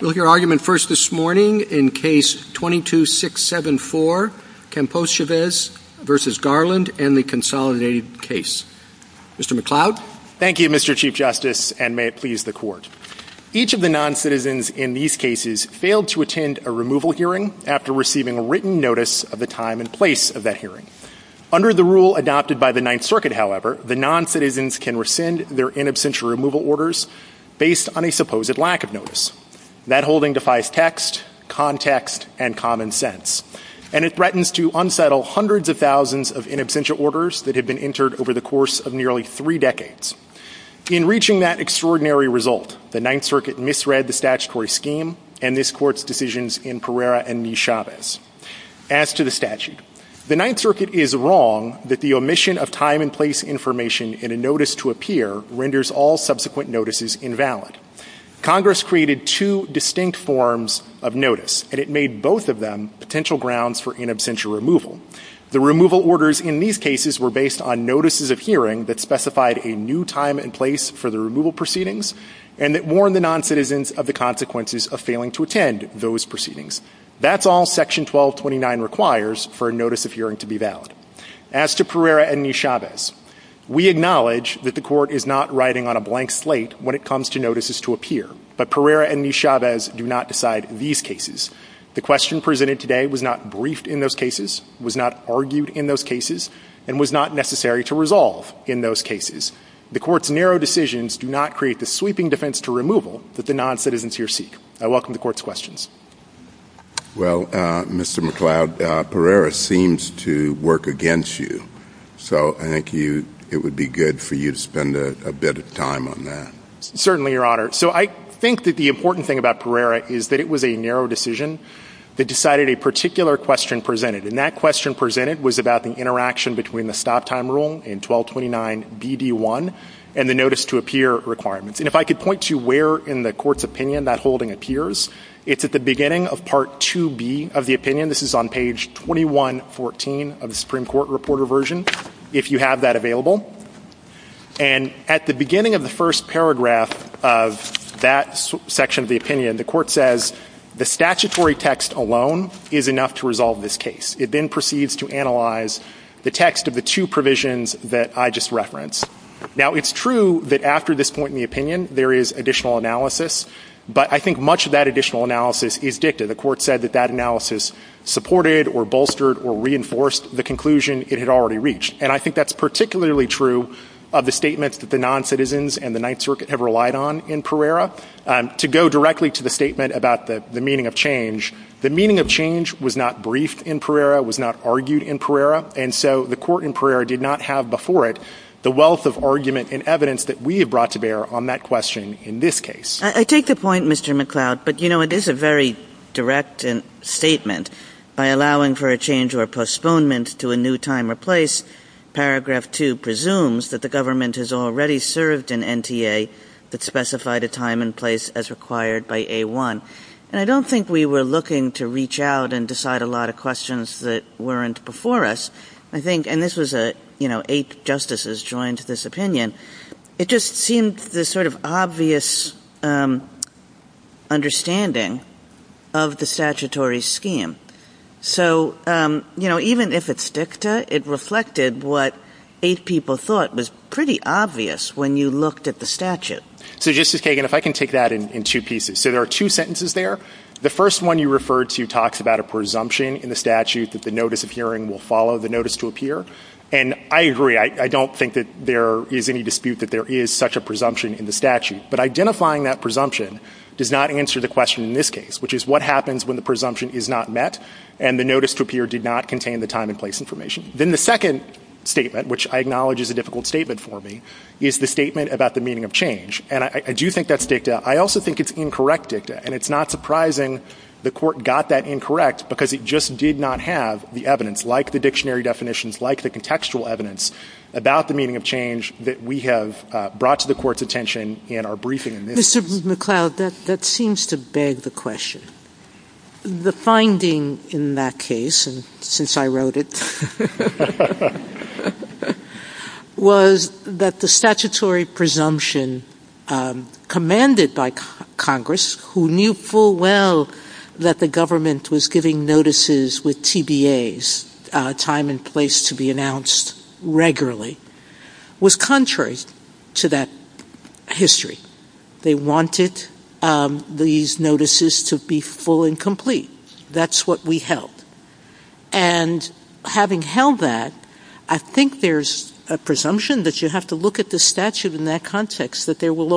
We'll hear argument first this morning in case 22674, Campos-Chaves v. Garland and the consolidated case. Mr. McLeod. Thank you, Mr. Chief Justice, and may it please the Court. Each of the noncitizens in these cases failed to attend a removal hearing after receiving written notice of the time and place of that hearing. Under the rule adopted by the Ninth Circuit, however, the noncitizens can rescind their in absentia removal orders based on a supposed lack of notice. That holding defies text, context, and common sense. And it threatens to unsettle hundreds of thousands of in absentia orders that have been entered over the course of nearly three decades. In reaching that extraordinary result, the Ninth Circuit misread the statutory scheme and this Court's decisions in Pereira v. Chaves. As to the statute, the Ninth Circuit is wrong that the omission of time and place information in a notice to appear renders all subsequent notices invalid. Congress created two distinct forms of notice, and it made both of them potential grounds for in absentia removal. The removal orders in these cases were based on notices of hearing that specified a new time and place for the removal proceedings and that warned the noncitizens of the consequences of failing to attend those proceedings. That's all Section 1229 requires for a notice of hearing to be valid. As to Pereira v. Chaves, we acknowledge that the Court is not writing on a blank slate when it comes to notices to appear, but Pereira v. Chaves do not decide these cases. The question presented today was not briefed in those cases, was not argued in those cases, and was not necessary to resolve in those cases. The Court's narrow decisions do not create the sweeping defense to removal that the noncitizens here seek. I welcome the Court's questions. Well, Mr. McCloud, Pereira seems to work against you, so I think it would be good for you to spend a bit of time on that. Certainly, Your Honor. So I think that the important thing about Pereira is that it was a narrow decision that decided a particular question presented, and that question presented was about the interaction between the stop-time rule in 1229DD1 and the notice to appear requirement. And if I could point to where in the Court's opinion that holding appears, it's at the beginning of Part 2B of the opinion. This is on page 2114 of the Supreme Court Reporter Version, if you have that available. And at the beginning of the first paragraph of that section of the opinion, the Court says the statutory text alone is enough to resolve this case. It then proceeds to analyze the text of the two provisions that I just referenced. Now, it's true that after this point in the opinion, there is additional analysis, but I think much of that additional analysis is dicta. The Court said that that analysis supported or bolstered or reinforced the conclusion it had already reached. And I think that's particularly true of the statements that the noncitizens and the Ninth Circuit have relied on in Pereira. To go directly to the statement about the meaning of change, the meaning of change was not briefed in Pereira, was not argued in Pereira, and so the Court in Pereira did not have before it the wealth of argument and evidence that we have brought to bear on that question in this case. I take the point, Mr. McCloud, but you know, it is a very direct statement. By allowing for a change or postponement to a new time or place, Paragraph 2 presumes that the government has already served an NTA that specified a time and place as required by A1. And I don't think we were looking to reach out and decide a lot of questions that weren't before us. I think, and this was a, you know, eight justices joined this opinion, it just seemed this sort of obvious understanding of the statutory scheme. So you know, even if it's dicta, it reflected what eight people thought was pretty obvious when you looked at the statute. So Justice Kagan, if I can take that in two pieces. So there are two sentences there. The first one you referred to talks about a presumption in the statute that the notice of hearing will follow the notice to appear. And I agree. I don't think that there is any dispute that there is such a presumption in the statute. But identifying that presumption does not answer the question in this case, which is what happens when the presumption is not met and the notice to appear did not contain the time and place information. Then the second statement, which I acknowledge is a difficult statement for me, is the statement about the meaning of change. And I do think that's dicta. I also think it's incorrect dicta. And it's not surprising the court got that incorrect because it just did not have the evidence, like the dictionary definitions, like the contextual evidence about the meaning of change that we have brought to the court's attention in our briefing. Mr. McCloud, that seems to beg the question. The finding in that case, and since I wrote it, was that the statutory presumption commanded by Congress, who knew full well that the government was giving notices with TBAs, time and place to be announced regularly, was contrary to that history. They wanted these notices to be full and complete. That's what we held. And having held that, I think there's a presumption that you have to look at the statute in that they will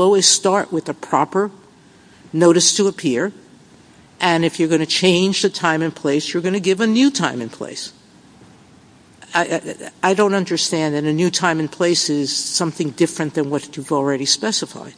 always start with a proper notice to appear, and if you're going to change the time and place, you're going to give a new time and place. I don't understand that a new time and place is something different than what you've already specified.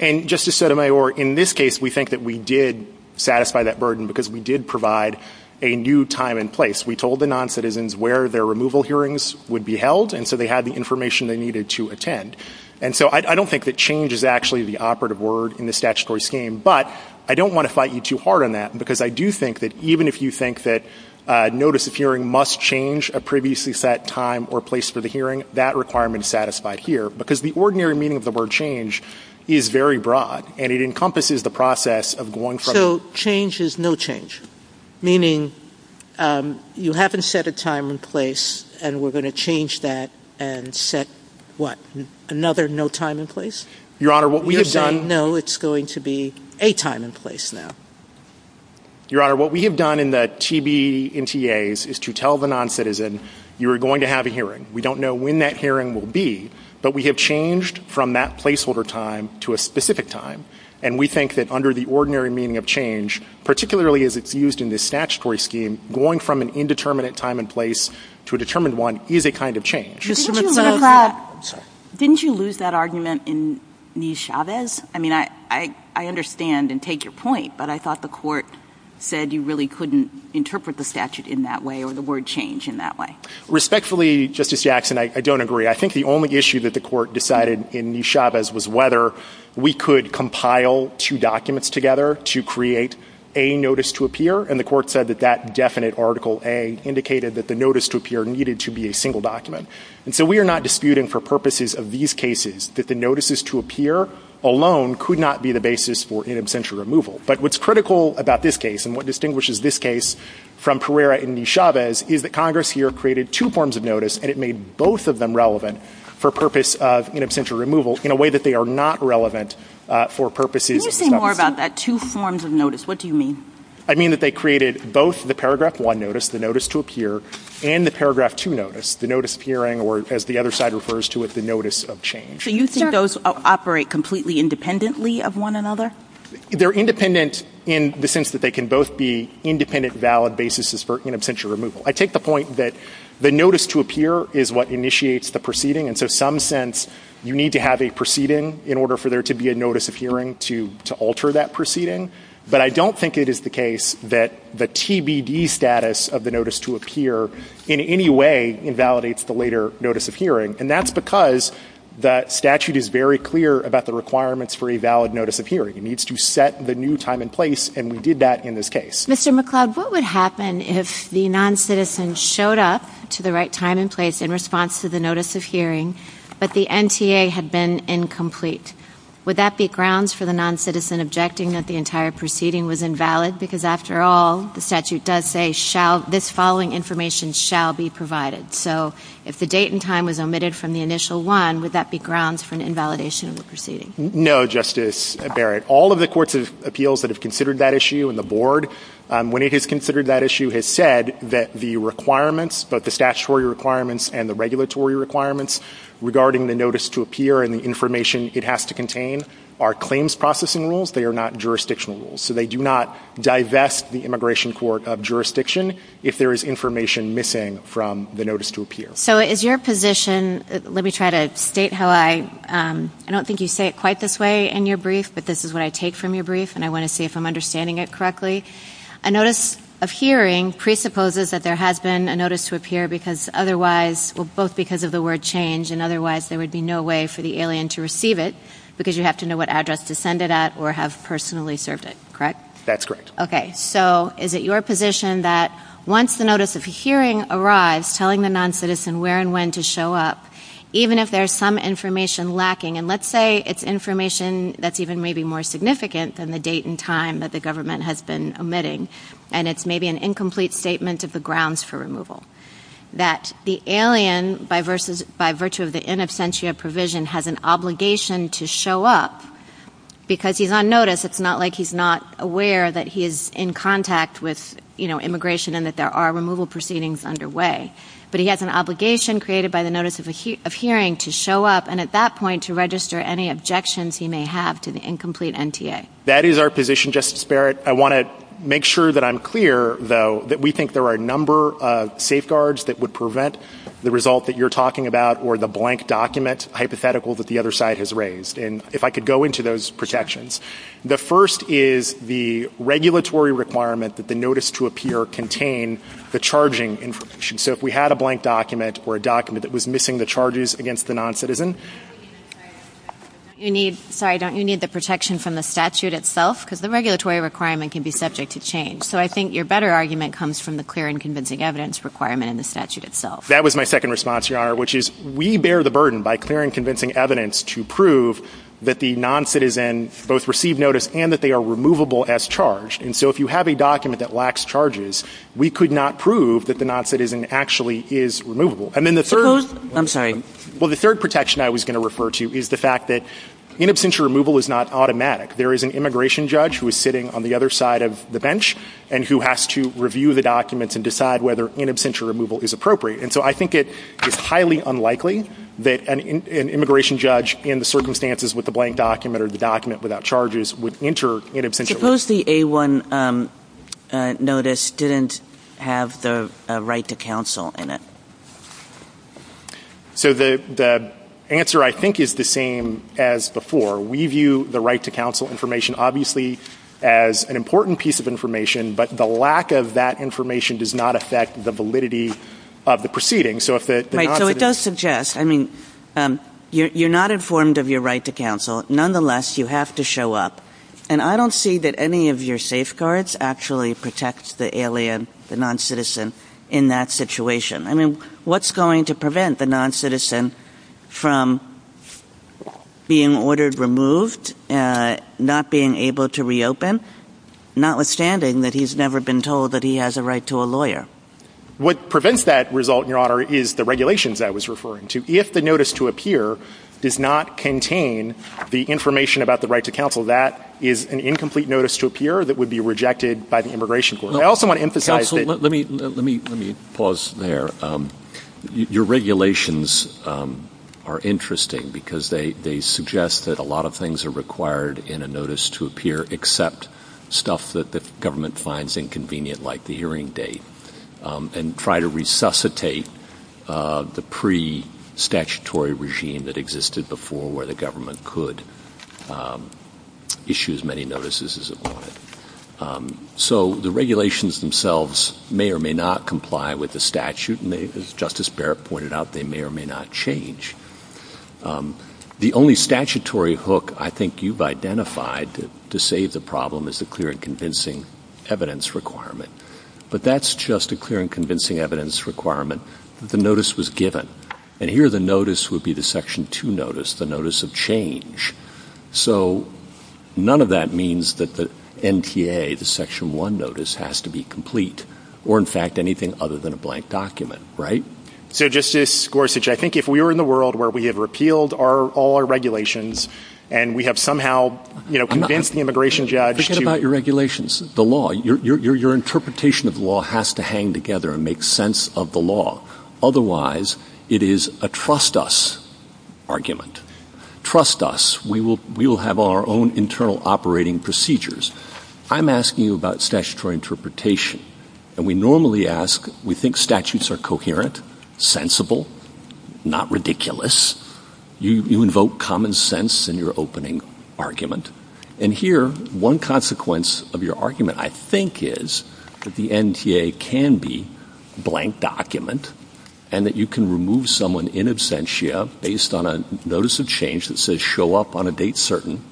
And Justice Sotomayor, in this case, we think that we did satisfy that burden because we did provide a new time and place. We told the noncitizens where their removal hearings would be held, and so they had the information they needed to attend. And so I don't think that change is actually the operative word in the statutory scheme, but I don't want to fight you too hard on that, because I do think that even if you think that notice of hearing must change a previously set time or place for the hearing, that requirement is satisfied here. Because the ordinary meaning of the word change is very broad, and it encompasses the process of going from So change is no change, meaning you haven't set a time and place, and we're going to change that and set, what, another no time and place? Your Honor, what we have done... Because I know it's going to be a time and place now. Your Honor, what we have done in the TBMTAs is to tell the noncitizen, you're going to have a hearing. We don't know when that hearing will be, but we have changed from that placeholder time to a specific time. And we think that under the ordinary meaning of change, particularly as it's used in this statutory scheme, going from an indeterminate time and place to a determined one is a kind of change. I'm sorry. Didn't you lose that argument in Nieschavez? I mean, I understand and take your point, but I thought the Court said you really couldn't interpret the statute in that way or the word change in that way. Respectfully, Justice Jackson, I don't agree. I think the only issue that the Court decided in Nieschavez was whether we could compile two documents together to create a notice to appear, and the Court said that that definite Article A indicated that the notice to appear needed to be a single document. And so we are not disputing for purposes of these cases that the notices to appear alone could not be the basis for in absentia removal. But what's critical about this case and what distinguishes this case from Pereira and Nieschavez is that Congress here created two forms of notice and it made both of them relevant for purpose of in absentia removal in a way that they are not relevant for purposes of other cases. Can you say more about that, two forms of notice? What do you mean? I mean that they created both the Paragraph 1 notice, the notice to appear, and the Paragraph 2 notice, the notice of hearing or as the other side refers to it, the notice of change. So you think those operate completely independently of one another? They're independent in the sense that they can both be independent valid basis for in absentia removal. I take the point that the notice to appear is what initiates the proceeding and so some sense you need to have a proceeding in order for there to be a notice of hearing to alter that proceeding. But I don't think it is the case that the TBD status of the notice to appear in any way invalidates the later notice of hearing. And that's because that statute is very clear about the requirements for a valid notice of hearing. It needs to set the new time and place and we did that in this case. Mr. McLeod, what would happen if the non-citizen showed up to the right time and place in response to the notice of hearing, but the NTA had been incomplete? Would that be grounds for the non-citizen objecting that the entire proceeding was invalid because after all, the statute does say this following information shall be provided. So if the date and time was omitted from the initial one, would that be grounds for an invalidation of the proceeding? No, Justice Barrett. All of the courts of appeals that have considered that issue and the board, when it has considered that issue, has said that the requirements, both the statutory requirements and the regulatory requirements regarding the notice to appear and the information it has to contain are claims processing rules. They are not jurisdictional rules. So they do not divest the immigration court of jurisdiction if there is information missing from the notice to appear. So is your position, let me try to state how I, I don't think you say it quite this way in your brief, but this is what I take from your brief and I want to see if I'm understanding it correctly. A notice of hearing presupposes that there has been a notice to appear because otherwise, well, both because of the word change and otherwise there would be no way for the alien to receive it because you have to know what address to send it at or have personally served it, correct? That's correct. Okay. So is it your position that once the notice of hearing arrives, telling the non-citizen where and when to show up, even if there's some information lacking, and let's say it's information that's even maybe more significant than the date and time that the government has been omitting, and it's maybe an incomplete statement of the grounds for removal, that the alien by virtue of the in absentia provision has an obligation to show up because he's on notice. It's not like he's not aware that he is in contact with, you know, immigration and that there are removal proceedings underway, but he has an obligation created by the notice of hearing to show up and at that point to register any objections he may have to the incomplete NTA. That is our position, Justice Barrett. I want to make sure that I'm clear, though, that we think there are a number of safeguards that would prevent the result that you're talking about or the blank document hypothetical that the other side has raised. And if I could go into those protections. The first is the regulatory requirement that the notice to appear contain the charging information. So if we had a blank document or a document that was missing the charges against the non-citizen... You need... Sorry, don't you need the protection from the statute itself? Because the regulatory requirement can be subject to change, so I think your better argument comes from the clear and convincing evidence requirement in the statute itself. That was my second response, Your Honor, which is we bear the burden by clear and convincing evidence to prove that the non-citizen both received notice and that they are removable as charged, and so if you have a document that lacks charges, we could not prove that the non-citizen actually is removable. And then the third... I'm sorry. Well, the third protection I was going to refer to is the fact that in absentia removal is not automatic. There is an immigration judge who is sitting on the other side of the bench and who has to review the documents and decide whether in absentia removal is appropriate, and so I think it is highly unlikely that an immigration judge in the circumstances with the blank document or the document without charges would enter in absentia removal. Suppose the A-1 notice didn't have the right to counsel in it? So the answer, I think, is the same as before. We view the right to counsel information obviously as an important piece of information, but the lack of that information does not affect the validity of the proceeding. So if the non-citizen... Right. So it does suggest, I mean, you're not informed of your right to counsel. Nonetheless, you have to show up, and I don't see that any of your safeguards actually protect the alien, the non-citizen, in that situation. I mean, what's going to prevent the non-citizen from being ordered removed, not being able to reopen, notwithstanding that he's never been told that he has a right to a lawyer? What prevents that result, Your Honor, is the regulations I was referring to. If the notice to appear does not contain the information about the right to counsel, that is an incomplete notice to appear that would be rejected by the immigration court. I also want to emphasize that... Let me pause there. Your regulations are interesting because they suggest that a lot of things are required in a notice to appear except stuff that the government finds inconvenient, like the hearing date, and try to resuscitate the pre-statutory regime that existed before where the government could issue as many notices as it wanted. So the regulations themselves may or may not comply with the statute, and as Justice Barrett pointed out, they may or may not change. The only statutory hook I think you've identified to save the problem is the clear and convincing evidence requirement. But that's just a clear and convincing evidence requirement. The notice was given, and here the notice would be the Section 2 notice, the notice of change. So none of that means that the NTA, the Section 1 notice, has to be complete, or in fact anything other than a blank document, right? So Justice Gorsuch, I think if we were in the world where we have repealed all our regulations and we have somehow convinced the immigration judge to... Forget about your regulations. The law, your interpretation of the law has to hang together and make sense of the law. Otherwise, it is a trust us argument. Trust us. We will have our own internal operating procedures. I'm asking you about statutory interpretation, and we normally ask, we think statutes are coherent, sensible, not ridiculous. You invoke common sense in your opening argument. And here, one consequence of your argument, I think, is that the NTA can be a blank document and that you can remove someone in absentia based on a notice of change that says show up on a date certain.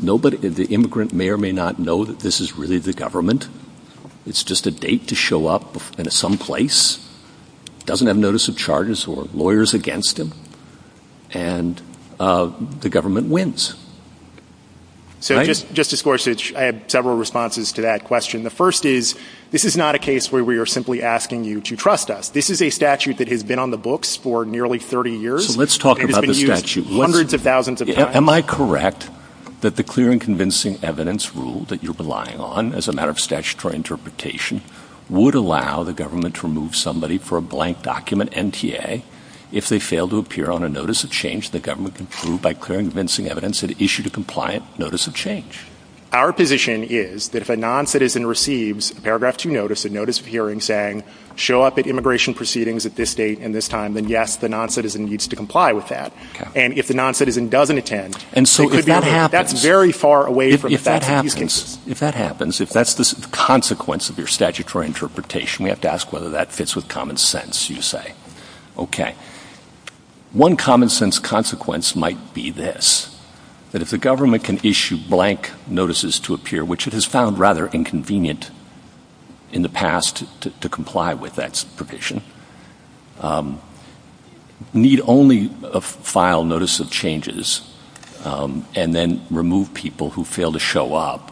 The immigrant may or may not know that this is really the government. It's just a date to show up in some place, doesn't have notice of charges or lawyers against him, and the government wins. So Justice Gorsuch, I have several responses to that question. The first is, this is not a case where we are simply asking you to trust us. This is a statute that has been on the books for nearly 30 years and has been used hundreds of thousands of times. Am I correct that the clear and convincing evidence rule that you're relying on as a matter of statutory interpretation would allow the government to remove somebody for a blank document NTA if they fail to appear on a notice of change the government can prove by clear and convincing evidence that it issued a compliant notice of change? Our position is that if a non-citizen receives paragraph 2 notice, a notice of hearing saying show up at immigration proceedings at this date and this time, then yes, the non-citizen needs to comply with that. And if the non-citizen doesn't attend, that's very far away from the statute of these cases. If that happens, if that's the consequence of your statutory interpretation, we have to ask whether that fits with common sense, you say. Okay. One common sense consequence might be this, that if the government can issue blank notices to appear, which it has found rather inconvenient in the past to comply with that provision, need only file notice of changes and then remove people who fail to show up,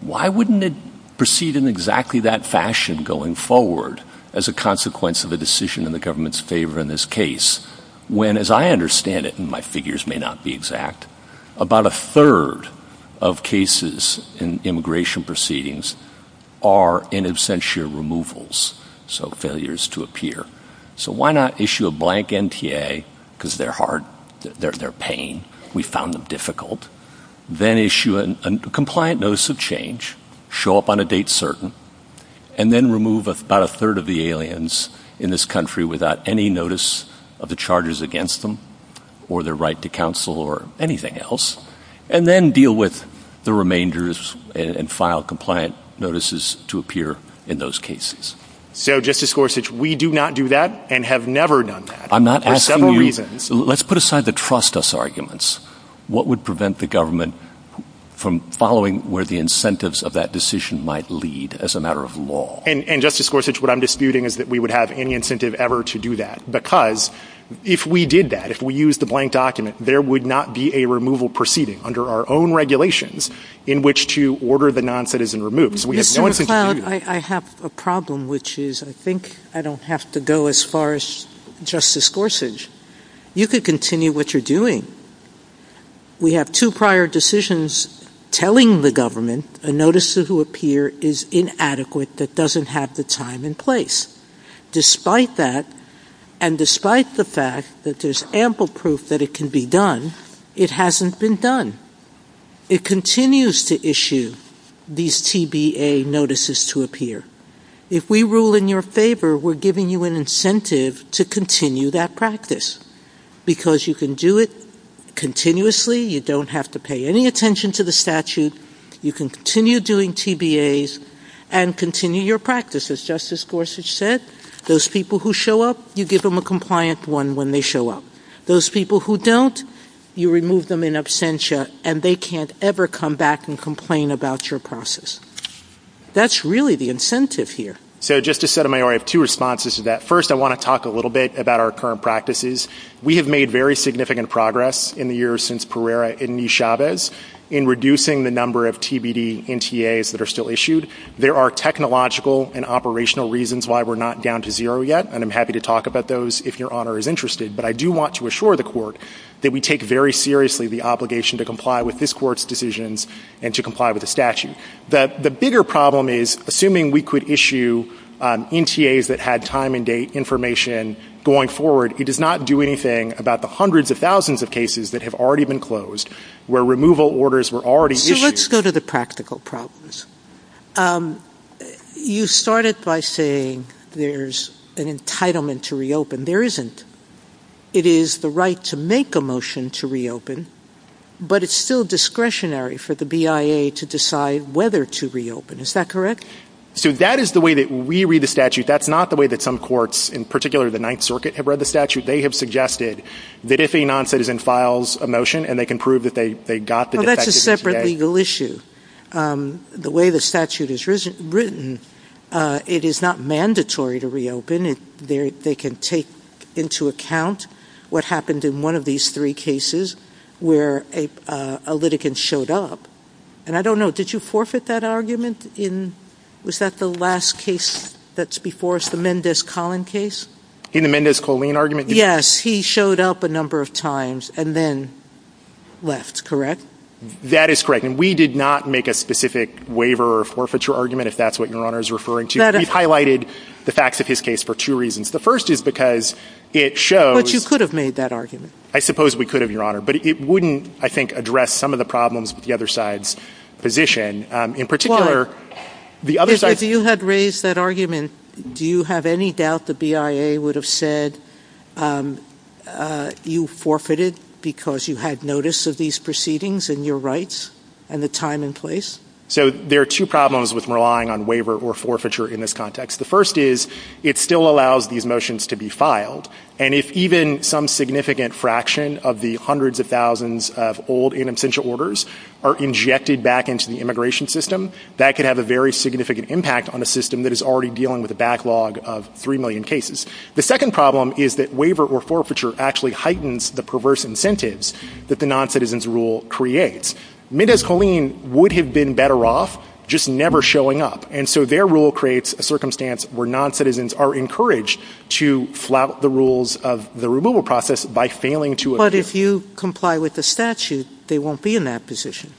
why wouldn't it proceed in exactly that fashion going forward as a consequence of a decision in the government's favor in this case when, as I understand it, and my figures may not be exact, about a third of cases in immigration proceedings are in absentia removals, so failures to appear. So why not issue a blank NTA because they're hard, they're pain, we found them difficult, then issue a compliant notice of change, show up on a date certain, and then remove about a third of the aliens in this country without any notice of the charges against them or their right to counsel or anything else, and then deal with the remainders and file compliant notices to appear in those cases. So Justice Gorsuch, we do not do that and have never done that for several reasons. Let's put aside the trust us arguments. What would prevent the government from following where the incentives of that decision might lead as a matter of law? And Justice Gorsuch, what I'm disputing is that we would have any incentive ever to do that, because if we did that, if we used a blank document, there would not be a removal proceeding under our own regulations in which to order the non-citizen removed. Mr. McLeod, I have a problem which is I think I don't have to go as far as Justice Gorsuch. You could continue what you're doing. We have two prior decisions telling the government a notice to appear is inadequate that doesn't have the time and place. Despite that, and despite the fact that there's ample proof that it can be done, it hasn't been done. It continues to issue these TBA notices to appear. If we rule in your favor, we're giving you an incentive to continue that practice, because you can do it continuously. You don't have to pay any attention to the statute. You can continue doing TBAs and continue your practice. As Justice Gorsuch said, those people who show up, you give them a compliant one when they show up. Those people who don't, you remove them in absentia, and they can't ever come back and complain about your process. That's really the incentive here. So, Justice Sotomayor, I have two responses to that. First, I want to talk a little bit about our current practices. We have made very significant progress in the years since Pereira and E. Chavez in reducing the number of TBD NTAs that are still issued. There are technological and operational reasons why we're not down to zero yet, and I'm happy to talk about those if Your Honor is interested. But I do want to assure the Court that we take very seriously the obligation to comply with this Court's decisions and to comply with the statute. The bigger problem is, assuming we could issue NTAs that had time and date information going forward, it does not do anything about the hundreds of thousands of cases that have already been closed, where removal orders were already issued. So, let's go to the practical problems. You started by saying there's an entitlement to reopen. There isn't. It is the right to make a motion to reopen, but it's still discretionary for the BIA to decide whether to reopen. Is that correct? So, that is the way that we read the statute. That's not the way that some courts, in particular the Ninth Circuit, have read the statute. They have suggested that if a non-citizen files a motion, and they can prove that they got the defection today. Well, that's a separate legal issue. The way the statute is written, it is not mandatory to reopen if they can take into account what happened in one of these three cases where a litigant showed up. And I don't know, did you forfeit that argument in, was that the last case that's before us, the Mendez-Colin case? In the Mendez-Colin argument? Yes. He showed up a number of times and then left, correct? That is correct. And we did not make a specific waiver or forfeiture argument, if that's what Your Honor is referring to. We've highlighted the facts of his case for two reasons. The first is because it shows – But you could have made that argument. I suppose we could have, Your Honor. But it wouldn't, I think, address some of the problems with the other side's position. In particular – Well, if you had raised that argument, do you have any doubt the BIA would have said you forfeited because you had notice of these proceedings and your rights and the time and place? So there are two problems with relying on waiver or forfeiture in this context. The first is it still allows these motions to be filed. And if even some significant fraction of the hundreds of thousands of old in absentia orders are injected back into the immigration system, that could have a very significant impact on a system that is already dealing with a backlog of three million cases. The second problem is that waiver or forfeiture actually heightens the perverse incentives that the non-citizens' rule creates. Mendez-Coleen would have been better off just never showing up. And so their rule creates a circumstance where non-citizens are encouraged to flout the rules of the removal process by failing to – But if you comply with the statute, they won't be in that position.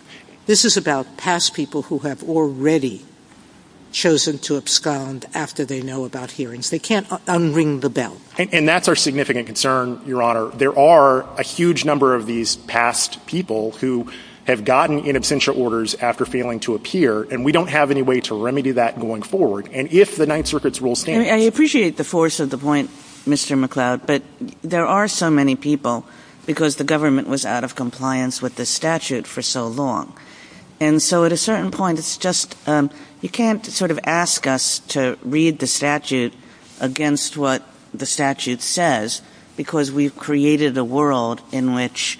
This is about past people who have already chosen to abscond after they know about hearings. They can't un-ring the bell. And that's our significant concern, Your Honor. There are a huge number of these past people who have gotten in absentia orders after failing to appear, and we don't have any way to remedy that going forward. And if the Ninth Circuit's rules can't – I appreciate the force of the point, Mr. McCloud, but there are so many people because the government was out of compliance with the statute for so long. And so at a certain point, it's just – you can't sort of ask us to read the statute against what the statute says because we've created a world in which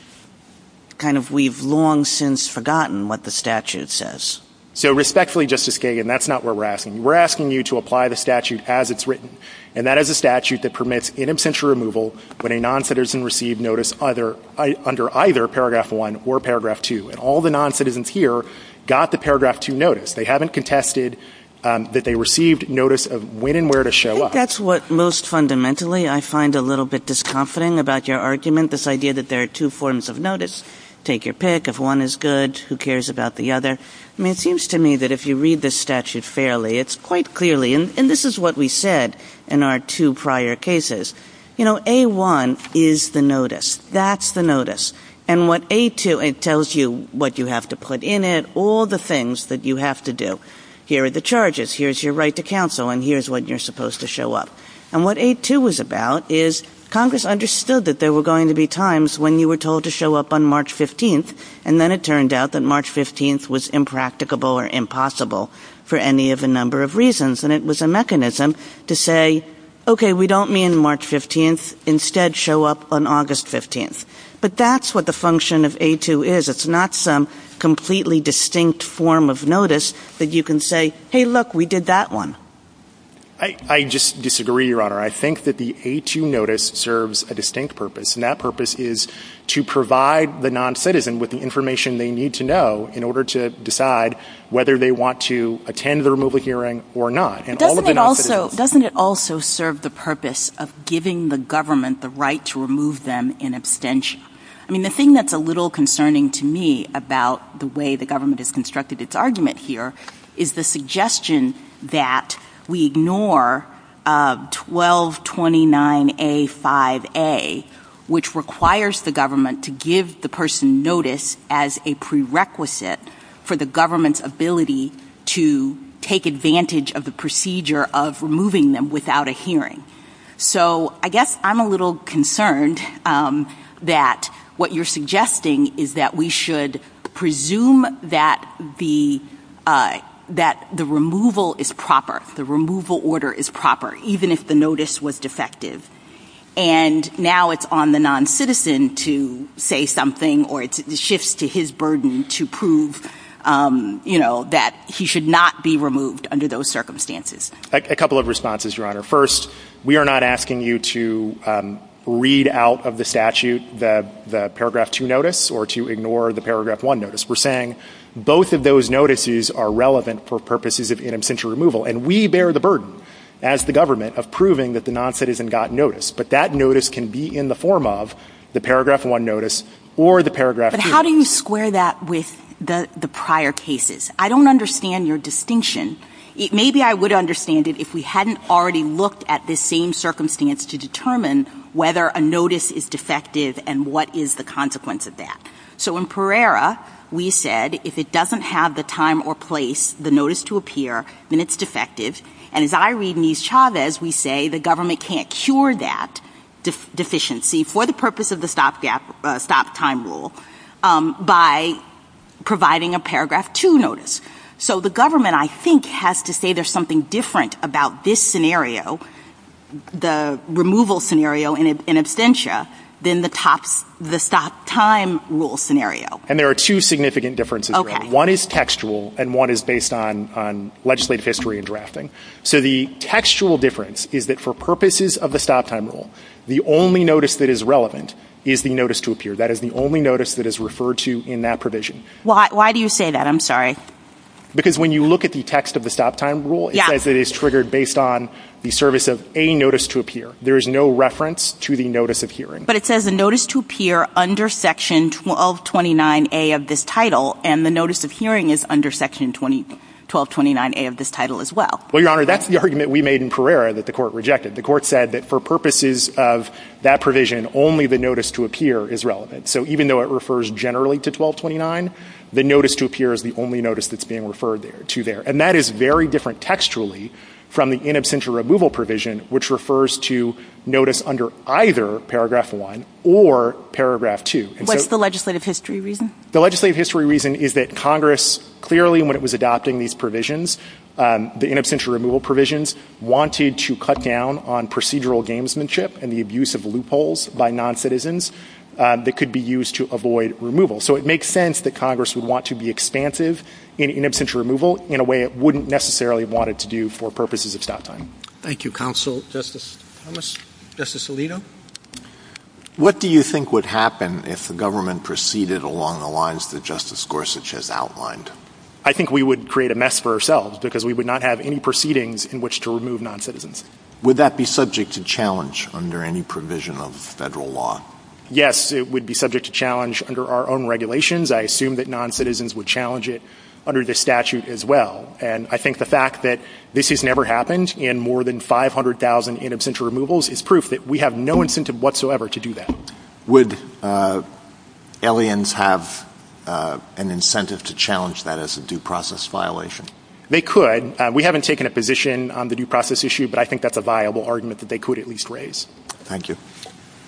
kind of we've long since forgotten what the statute says. So respectfully, Justice Kagan, that's not what we're asking. We're asking you to apply the statute as it's written, and that is a statute that permits in absentia removal when a non-citizen received notice under either paragraph one or paragraph two. And all the non-citizens here got the paragraph two notice. They haven't contested that they received notice of when and where to show up. That's what most fundamentally I find a little bit disconforting about your argument, this idea that there are two forms of notice – take your pick, if one is good, who cares about the other. I mean, it seems to me that if you read the statute fairly, it's quite clearly – and this is what we said in our two prior cases – you know, A-1 is the notice. That's the notice. And what A-2 – it tells you what you have to put in it, all the things that you have to do. Here are the charges. Here's your right to counsel, and here's what you're supposed to show up. And what A-2 was about is Congress understood that there were going to be times when you were told to show up on March 15th, and then it turned out that March 15th was impracticable or impossible for any of a number of reasons. And it was a mechanism to say, okay, we don't mean March 15th. Instead, show up on August 15th. But that's what the function of A-2 is. It's not some completely distinct form of notice that you can say, hey, look, we did that one. I just disagree, Your Honor. I think that the A-2 notice serves a distinct purpose, and that purpose is to provide the noncitizen with the information they need to know in order to decide whether they want to attend the removal hearing or not. Doesn't it also – doesn't it also serve the purpose of giving the government the right to remove them in abstention? I mean, the thing that's a little concerning to me about the way the government has constructed its argument here is the suggestion that we ignore 1229A-5A, which requires the government to give the person notice as a prerequisite for the government's ability to take advantage So I guess I'm a little concerned that what you're suggesting is that we should presume that the removal is proper, the removal order is proper, even if the notice was defective. And now it's on the noncitizen to say something, or it shifts to his burden to prove, you know, that he should not be removed under those circumstances. A couple of responses, Your Honor. First, we are not asking you to read out of the statute the paragraph 2 notice or to ignore the paragraph 1 notice. We're saying both of those notices are relevant for purposes of in absentia removal, and we bear the burden as the government of proving that the noncitizen got notice. But that notice can be in the form of the paragraph 1 notice or the paragraph 2. But how do you square that with the prior cases? I don't understand your distinction. Maybe I would understand it if we hadn't already looked at the same circumstance to determine whether a notice is defective and what is the consequence of that. So in Pereira, we said if it doesn't have the time or place, the notice to appear, then it's defective. And as I read in these Chavez, we say the government can't cure that deficiency for the purpose of the stop time rule by providing a paragraph 2 notice. So the government, I think, has to say there's something different about this scenario, the removal scenario in absentia, than the stop time rule scenario. And there are two significant differences. One is textual, and one is based on legislative history and drafting. So the textual difference is that for purposes of the stop time rule, the only notice that is relevant is the notice to appear. That is the only notice that is referred to in that provision. Why do you say that? I'm sorry. Because when you look at the text of the stop time rule, it says it is triggered based on the service of a notice to appear. There is no reference to the notice of hearing. But it says a notice to appear under section 1229A of this title, and the notice of hearing is under section 1229A of this title as well. Well, Your Honor, that's the argument we made in Pereira that the court rejected. The court said that for purposes of that provision, only the notice to appear is relevant. So even though it refers generally to 1229, the notice to appear is the only notice that's being referred to there. And that is very different textually from the in absentia removal provision, which refers to notice under either paragraph one or paragraph two. What's the legislative history reason? The legislative history reason is that Congress clearly, when it was adopting these provisions, the in absentia removal provisions, wanted to cut down on procedural gamesmanship and the abuse of loopholes by non-citizens that could be used to avoid removal. So it makes sense that Congress would want to be expansive in in absentia removal in a way it wouldn't necessarily want it to do for purposes of stop time. Thank you, Counsel Justice Alito. What do you think would happen if the government proceeded along the lines that Justice Gorsuch has outlined? I think we would create a mess for ourselves because we would not have any proceedings in which to remove non-citizens. Would that be subject to challenge under any provision of federal law? Yes, it would be subject to challenge under our own regulations. I assume that non-citizens would challenge it under the statute as well. And I think the fact that this has never happened in more than 500,000 in absentia removals is proof that we have no incentive whatsoever to do that. Would LENs have an incentive to challenge that as a due process violation? They could. We haven't taken a position on the due process issue, but I think that's a viable argument that they could at least raise. Thank you.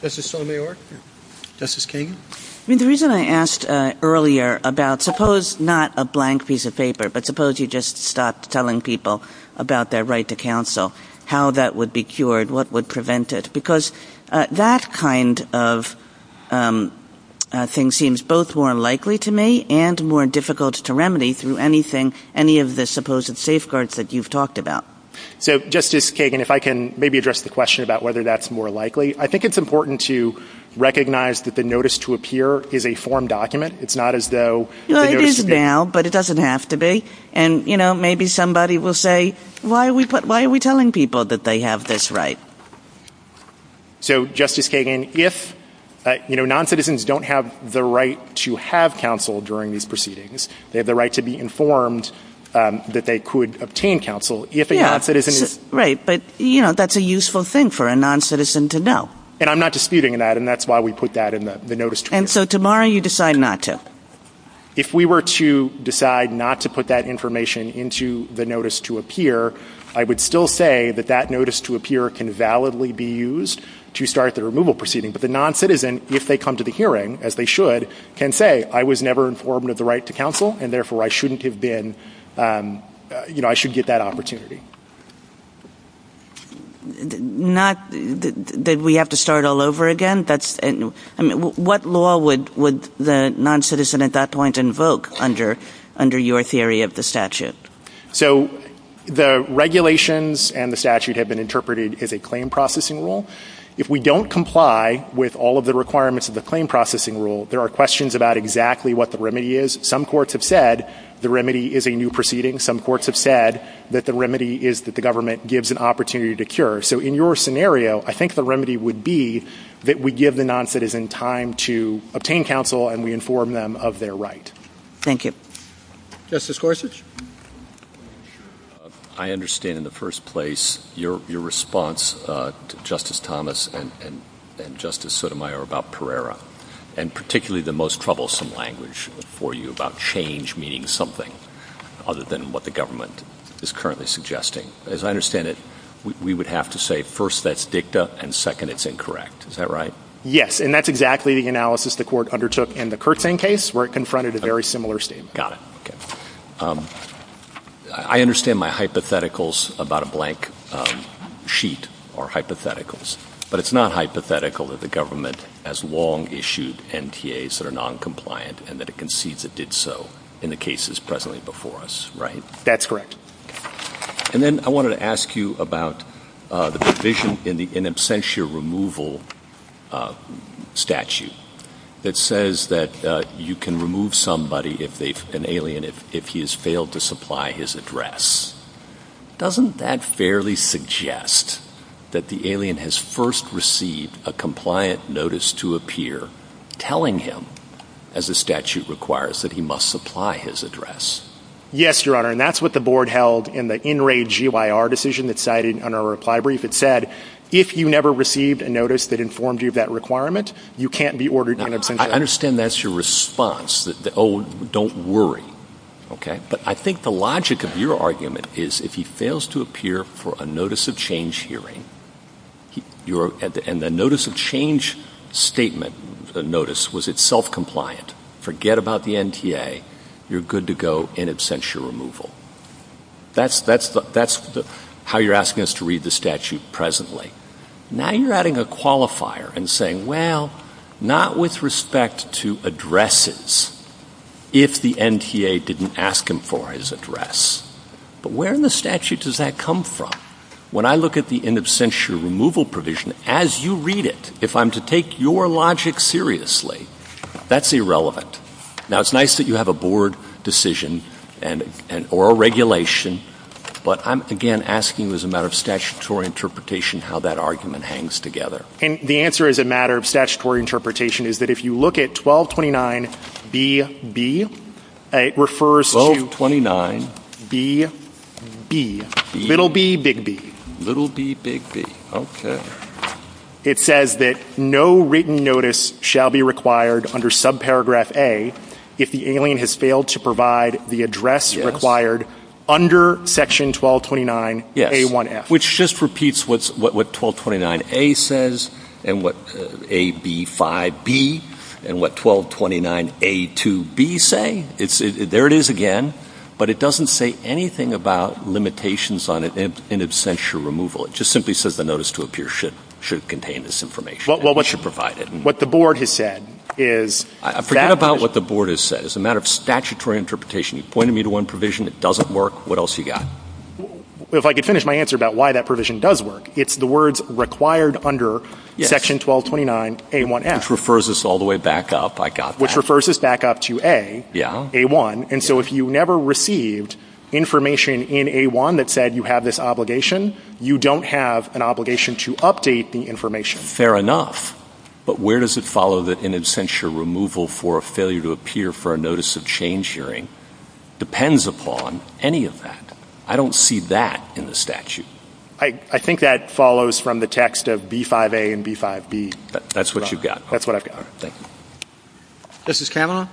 Justice Sotomayor? Justice Kagan? I mean, the reason I asked earlier about suppose not a blank piece of paper, but suppose you just stopped telling people about their right to counsel, how that would be cured, what would prevent it? Because that kind of thing seems both more likely to me and more difficult to remedy through any of the supposed safeguards that you've talked about. So, Justice Kagan, if I can maybe address the question about whether that's more likely. I think it's important to recognize that the notice to appear is a form document. It's not as though... It is now, but it doesn't have to be. And maybe somebody will say, why are we telling people that they have this right? So Justice Kagan, if non-citizens don't have the right to have counsel during these proceedings, they have the right to be informed that they could obtain counsel if a non-citizen is... Yeah, right. But, you know, that's a useful thing for a non-citizen to know. And I'm not disputing that, and that's why we put that in the notice to appear. And so tomorrow you decide not to? If we were to decide not to put that information into the notice to appear, I would still say that that notice to appear can validly be used to start the removal proceeding. But the non-citizen, if they come to the hearing, as they should, can say, I was never informed of the right to counsel, and therefore I shouldn't have been... You know, I shouldn't get that opportunity. Not that we have to start all over again? What law would the non-citizen at that point invoke under your theory of the statute? So the regulations and the statute have been interpreted as a claim processing rule. If we don't comply with all of the requirements of the claim processing rule, there are questions about exactly what the remedy is. Some courts have said the remedy is a new proceeding. Some courts have said that the remedy is that the government gives an opportunity to cure. So in your scenario, I think the remedy would be that we give the non-citizen time to obtain counsel and we inform them of their right. Thank you. Justice Gorsuch? I understand in the first place your response to Justice Thomas and Justice Sotomayor about the most troublesome language for you about change meaning something other than what the government is currently suggesting. As I understand it, we would have to say, first, that's dicta, and second, it's incorrect. Is that right? Yes. And that's exactly the analysis the court undertook in the Kirtland case, where it confronted a very similar statement. Got it. I understand my hypotheticals about a blank sheet are hypotheticals, but it's not hypothetical that the government has long issued NTAs that are noncompliant and that it concedes it did so in the cases presently before us, right? That's correct. And then I wanted to ask you about the provision in the in absentia removal statute that says that you can remove somebody, an alien, if he has failed to supply his address. Doesn't that fairly suggest that the alien has first received a compliant notice to appear telling him, as the statute requires, that he must supply his address? Yes, Your Honor, and that's what the board held in the in raid GYR decision that's cited on our reply brief. It said, if you never received a notice that informed you of that requirement, you can't be ordered in absentia. I understand that's your response, that, oh, don't worry, okay? But I think the logic of your argument is if he fails to appear for a notice of change hearing and the notice of change statement, the notice, was it self-compliant, forget about the NTA, you're good to go in absentia removal. That's how you're asking us to read the statute presently. Now you're adding a qualifier and saying, well, not with respect to addresses, if the NTA is looking for his address, but where in the statute does that come from? When I look at the in absentia removal provision, as you read it, if I'm to take your logic seriously, that's irrelevant. Now it's nice that you have a board decision or a regulation, but I'm, again, asking as a matter of statutory interpretation how that argument hangs together. And the answer as a matter of statutory interpretation is that if you look at 1229BB, it refers to 1229BB, little B, big B. Little B, big B, okay. It says that no written notice shall be required under subparagraph A if the alien has failed to provide the address required under section 1229A1F. Which just repeats what 1229A says and what AB5B and what 1229A2B say. There it is again, but it doesn't say anything about limitations on in absentia removal. It just simply says the notice to appear should contain this information. It should provide it. Well, what the board has said is that... Forget about what the board has said. As a matter of statutory interpretation, you pointed me to one provision that doesn't work. What else you got? Well, if I could finish my answer about why that provision does work, it's the words required under section 1229A1F. Which refers us all the way back up. I got that. Which refers us back up to A, A1, and so if you never received information in A1 that said you have this obligation, you don't have an obligation to update the information. Fair enough, but where does it follow that an absentia removal for a failure to appear for a notice of change hearing depends upon any of that? I don't see that in the statute. I think that follows from the text of B5A and B5B. That's what you've got. That's what I've got. All right. Thank you. Justice Kavanaugh?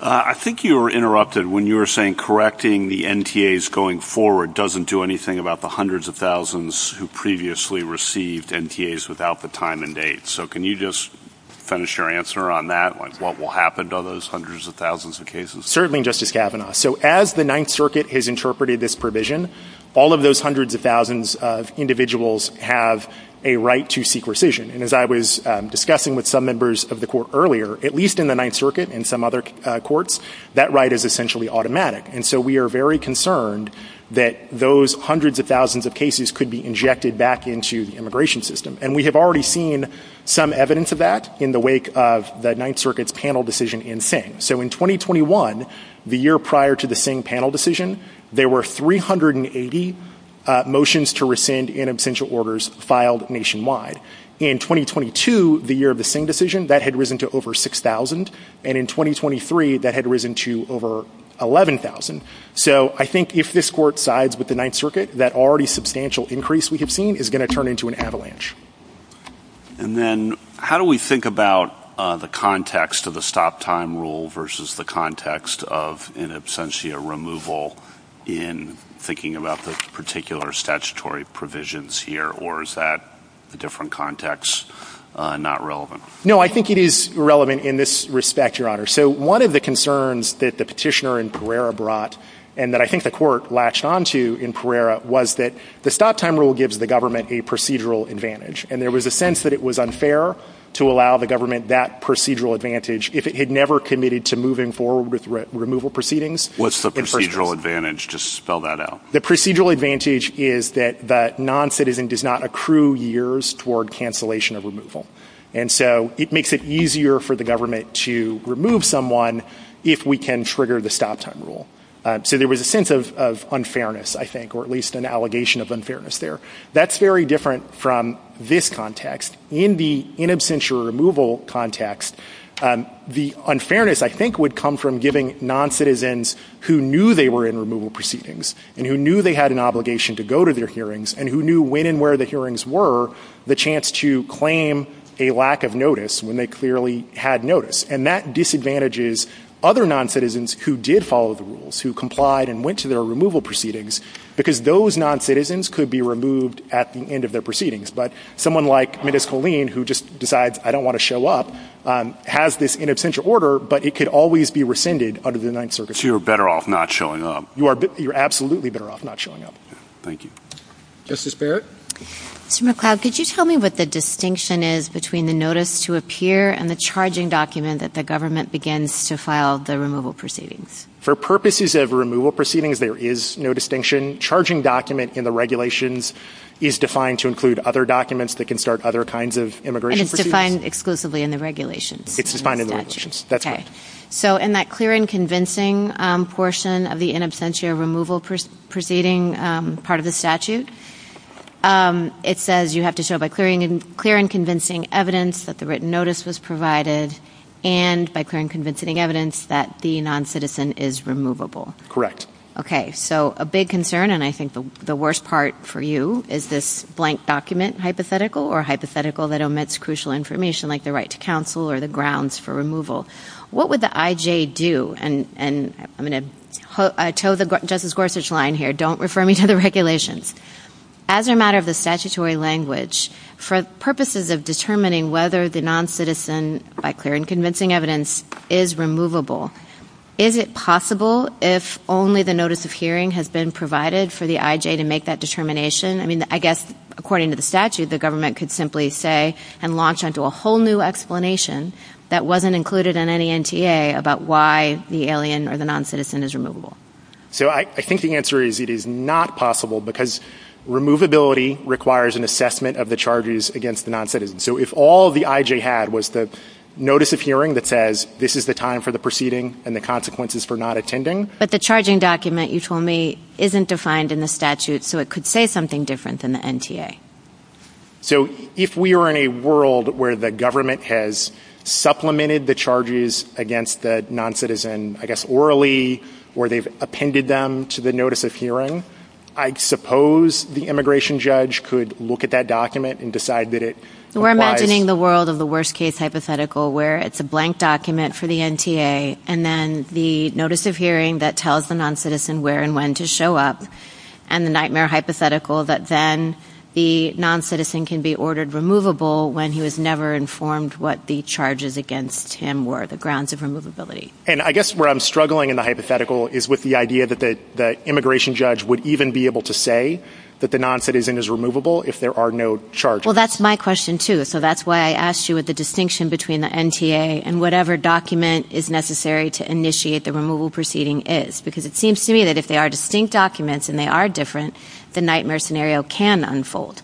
I think you were interrupted when you were saying correcting the NTAs going forward doesn't do anything about the hundreds of thousands who previously received NTAs without the time and date. So can you just finish your answer on that, on what will happen to those hundreds of thousands of cases? Certainly, Justice Kavanaugh. So as the Ninth Circuit has interpreted this provision, all of those hundreds of thousands of individuals have a right to seek rescission, and as I was discussing with some members of the court earlier, at least in the Ninth Circuit and some other courts, that right is essentially automatic. And so we are very concerned that those hundreds of thousands of cases could be injected back into the immigration system. And we have already seen some evidence of that in the wake of the Ninth Circuit's panel decision in Singh. So in 2021, the year prior to the Singh panel decision, there were 380 motions to rescind in absentia orders filed nationwide. In 2022, the year of the Singh decision, that had risen to over 6,000. And in 2023, that had risen to over 11,000. So I think if this court sides with the Ninth Circuit, that already substantial increase we have seen is going to turn into an avalanche. And then how do we think about the context of the stop time rule versus the context of in absentia removal in thinking about the particular statutory provisions here? Or is that different context not relevant? No, I think it is relevant in this respect, Your Honor. So one of the concerns that the petitioner in Pereira brought, and that I think the court latched onto in Pereira, was that the stop time rule gives the government a procedural advantage. And there was a sense that it was unfair to allow the government that procedural advantage if it had never committed to moving forward with removal proceedings. What's the procedural advantage? Just spell that out. The procedural advantage is that the noncitizen does not accrue years toward cancellation of removal. And so it makes it easier for the government to remove someone if we can trigger the stop time rule. So there was a sense of unfairness, I think, or at least an allegation of unfairness there. That's very different from this context. In the in absentia removal context, the unfairness, I think, would come from giving noncitizens who knew they were in removal proceedings, and who knew they had an obligation to go to their hearings, and who knew when and where the hearings were, the chance to claim a lack of notice when they clearly had notice. And that disadvantages other noncitizens who did follow the rules, who complied and went to their removal proceedings, because those noncitizens could be removed at the end of their proceedings. But someone like Ms. Haleen, who just decides, I don't want to show up, has this in absentia order, but it could always be rescinded under the Ninth Circuit. So you're better off not showing up. You are. You're absolutely better off not showing up. Justice Barrett? Mr. McLeod, could you tell me what the distinction is between the notice to appear and the charging document that the government begins to file the removal proceedings? For purposes of removal proceedings, there is no distinction. Charging document in the regulations is defined to include other documents that can start other kinds of immigration proceedings. And it's defined exclusively in the regulations? It's defined in the regulations. That's right. So in that clear and convincing portion of the in absentia removal proceeding part of the statute, it says you have to show by clear and convincing evidence that the written notice was provided and by clear and convincing evidence that the noncitizen is removable. Correct. Okay. So a big concern, and I think the worst part for you, is this blank document hypothetical or hypothetical that omits crucial information like the right to counsel or the grounds for removal. What would the IJ do? And I'm going to tow the Justice Gorsuch line here. Don't refer me to the regulations. As a matter of the statutory language, for purposes of determining whether the noncitizen by clear and convincing evidence is removable, is it possible if only the notice of hearing has been provided for the IJ to make that determination? I mean, I guess according to the statute, the government could simply say and launch into a whole new explanation that wasn't included in any NTA about why the alien or the noncitizen is removable. So I think the answer is it is not possible because removability requires an assessment of the charges against the noncitizen. So if all the IJ had was the notice of hearing that says this is the time for the proceeding and the consequences for not attending. But the charging document, you told me, isn't defined in the statute, so it could say something different than the NTA. So if we are in a world where the government has supplemented the charges against the noncitizen, I guess, orally, or they've appended them to the notice of hearing, I suppose the immigration judge could look at that document and decide that it... We're imagining the world of the worst case hypothetical, where it's a blank document for the NTA, and then the notice of hearing that tells the noncitizen where and when to The noncitizen can be ordered removable when he was never informed what the charges against him were, the grounds of removability. And I guess where I'm struggling in the hypothetical is with the idea that the immigration judge would even be able to say that the noncitizen is removable if there are no charges. Well, that's my question, too. So that's why I asked you what the distinction between the NTA and whatever document is necessary to initiate the removal proceeding is, because it seems to me that if they are distinct documents and they are different, the nightmare scenario can unfold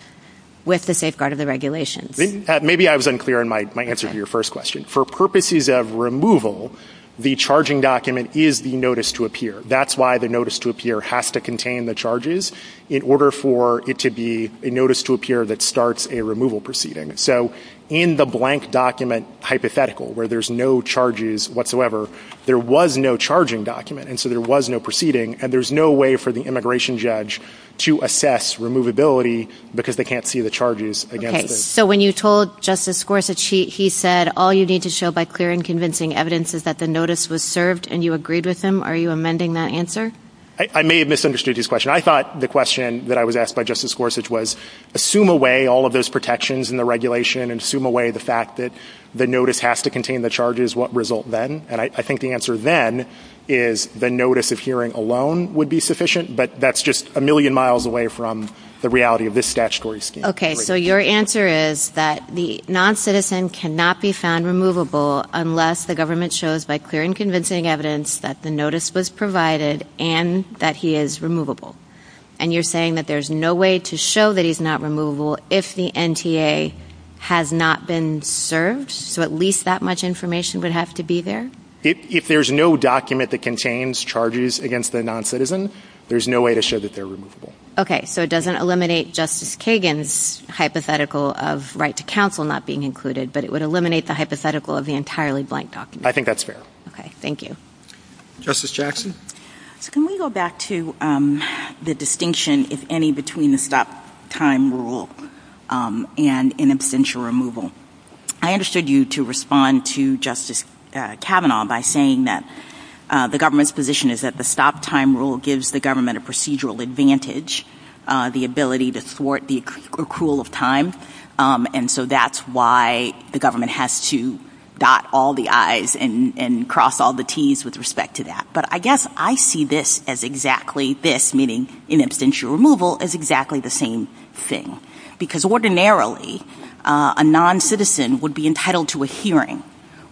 with the safeguard of the regulations. Maybe I was unclear in my answer to your first question. For purposes of removal, the charging document is the notice to appear. That's why the notice to appear has to contain the charges in order for it to be a notice to appear that starts a removal proceeding. So in the blank document hypothetical, where there's no charges whatsoever, there was no immigration judge to assess removability because they can't see the charges against him. So when you told Justice Gorsuch, he said all you need to show by clear and convincing evidence is that the notice was served and you agreed with him. Are you amending that answer? I may have misunderstood his question. I thought the question that I was asked by Justice Gorsuch was, assume away all of those protections in the regulation and assume away the fact that the notice has to contain the charges, what result then? I think the answer then is the notice of hearing alone would be sufficient, but that's just a million miles away from the reality of this statutory standard. Okay, so your answer is that the non-citizen cannot be found removable unless the government shows by clear and convincing evidence that the notice was provided and that he is removable. And you're saying that there's no way to show that he's not removable if the NTA has not been served, so at least that much information would have to be there? If there's no document that contains charges against the non-citizen, there's no way to show that they're removable. Okay, so it doesn't eliminate Justice Kagan's hypothetical of right to counsel not being included, but it would eliminate the hypothetical of the entirely blank document. I think that's fair. Okay, thank you. Justice Jackson? Can we go back to the distinction, if any, between the stop time rule and an absential removal? I understood you to respond to Justice Kavanaugh by saying that the government's position is that the stop time rule gives the government a procedural advantage, the ability to thwart the accrual of time, and so that's why the government has to dot all the I's and cross all the T's with respect to that. But I guess I see this as exactly this, meaning in absentia removal, as exactly the same thing, because ordinarily a non-citizen would be entitled to a hearing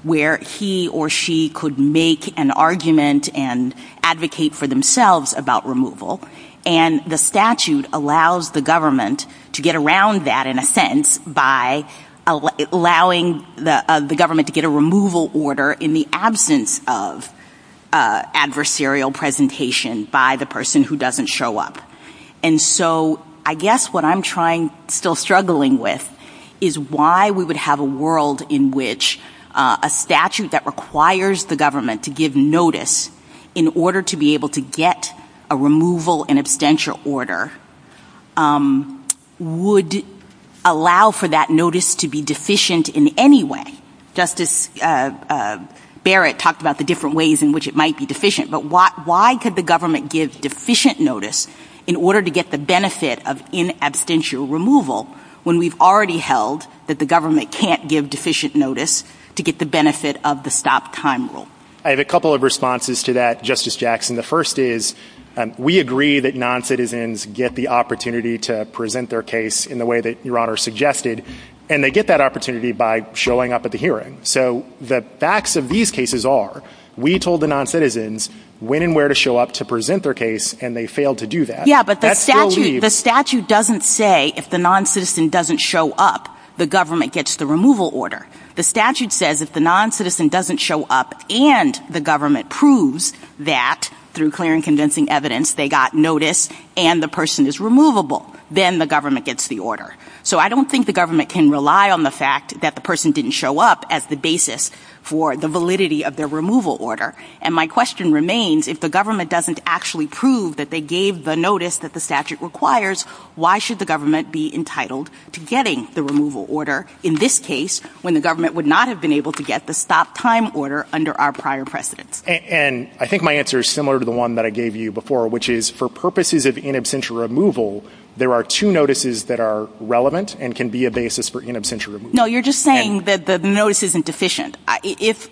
where he or she could make an argument and advocate for themselves about removal, and the statute allows the government to get around that in a sense by allowing the government to get a removal order in the absence of adversarial presentation by the person who doesn't show up. And so I guess what I'm still struggling with is why we would have a world in which a statute that requires the government to give notice in order to be able to get a removal in absentia order would allow for that notice to be deficient in any way. Justice Barrett talked about the different ways in which it might be deficient, but why could the government give deficient notice in order to get the benefit of in absentia removal when we've already held that the government can't give deficient notice to get the benefit of the stop time rule? I have a couple of responses to that, Justice Jackson. The first is we agree that non-citizens get the opportunity to present their case in the way that Your Honor suggested, and they get that opportunity by showing up at the hearing. So the facts of these cases are we told the non-citizens when and where to show up to present their case, and they failed to do that. Yeah, but the statute doesn't say if the non-citizen doesn't show up, the government gets the removal order. The statute says if the non-citizen doesn't show up and the government proves that through clear and convincing evidence they got notice and the person is removable, then the government gets the order. So I don't think the government can rely on the fact that the person didn't show up as the basis for the validity of their removal order. And my question remains, if the government doesn't actually prove that they gave the notice that the statute requires, why should the government be entitled to getting the removal order in this case when the government would not have been able to get the stop time order under our prior precedent? And I think my answer is similar to the one that I gave you before, which is for purposes of in absentia removal, there are two notices that are relevant and can be a basis for in absentia removal. No, you're just saying that the notice isn't deficient.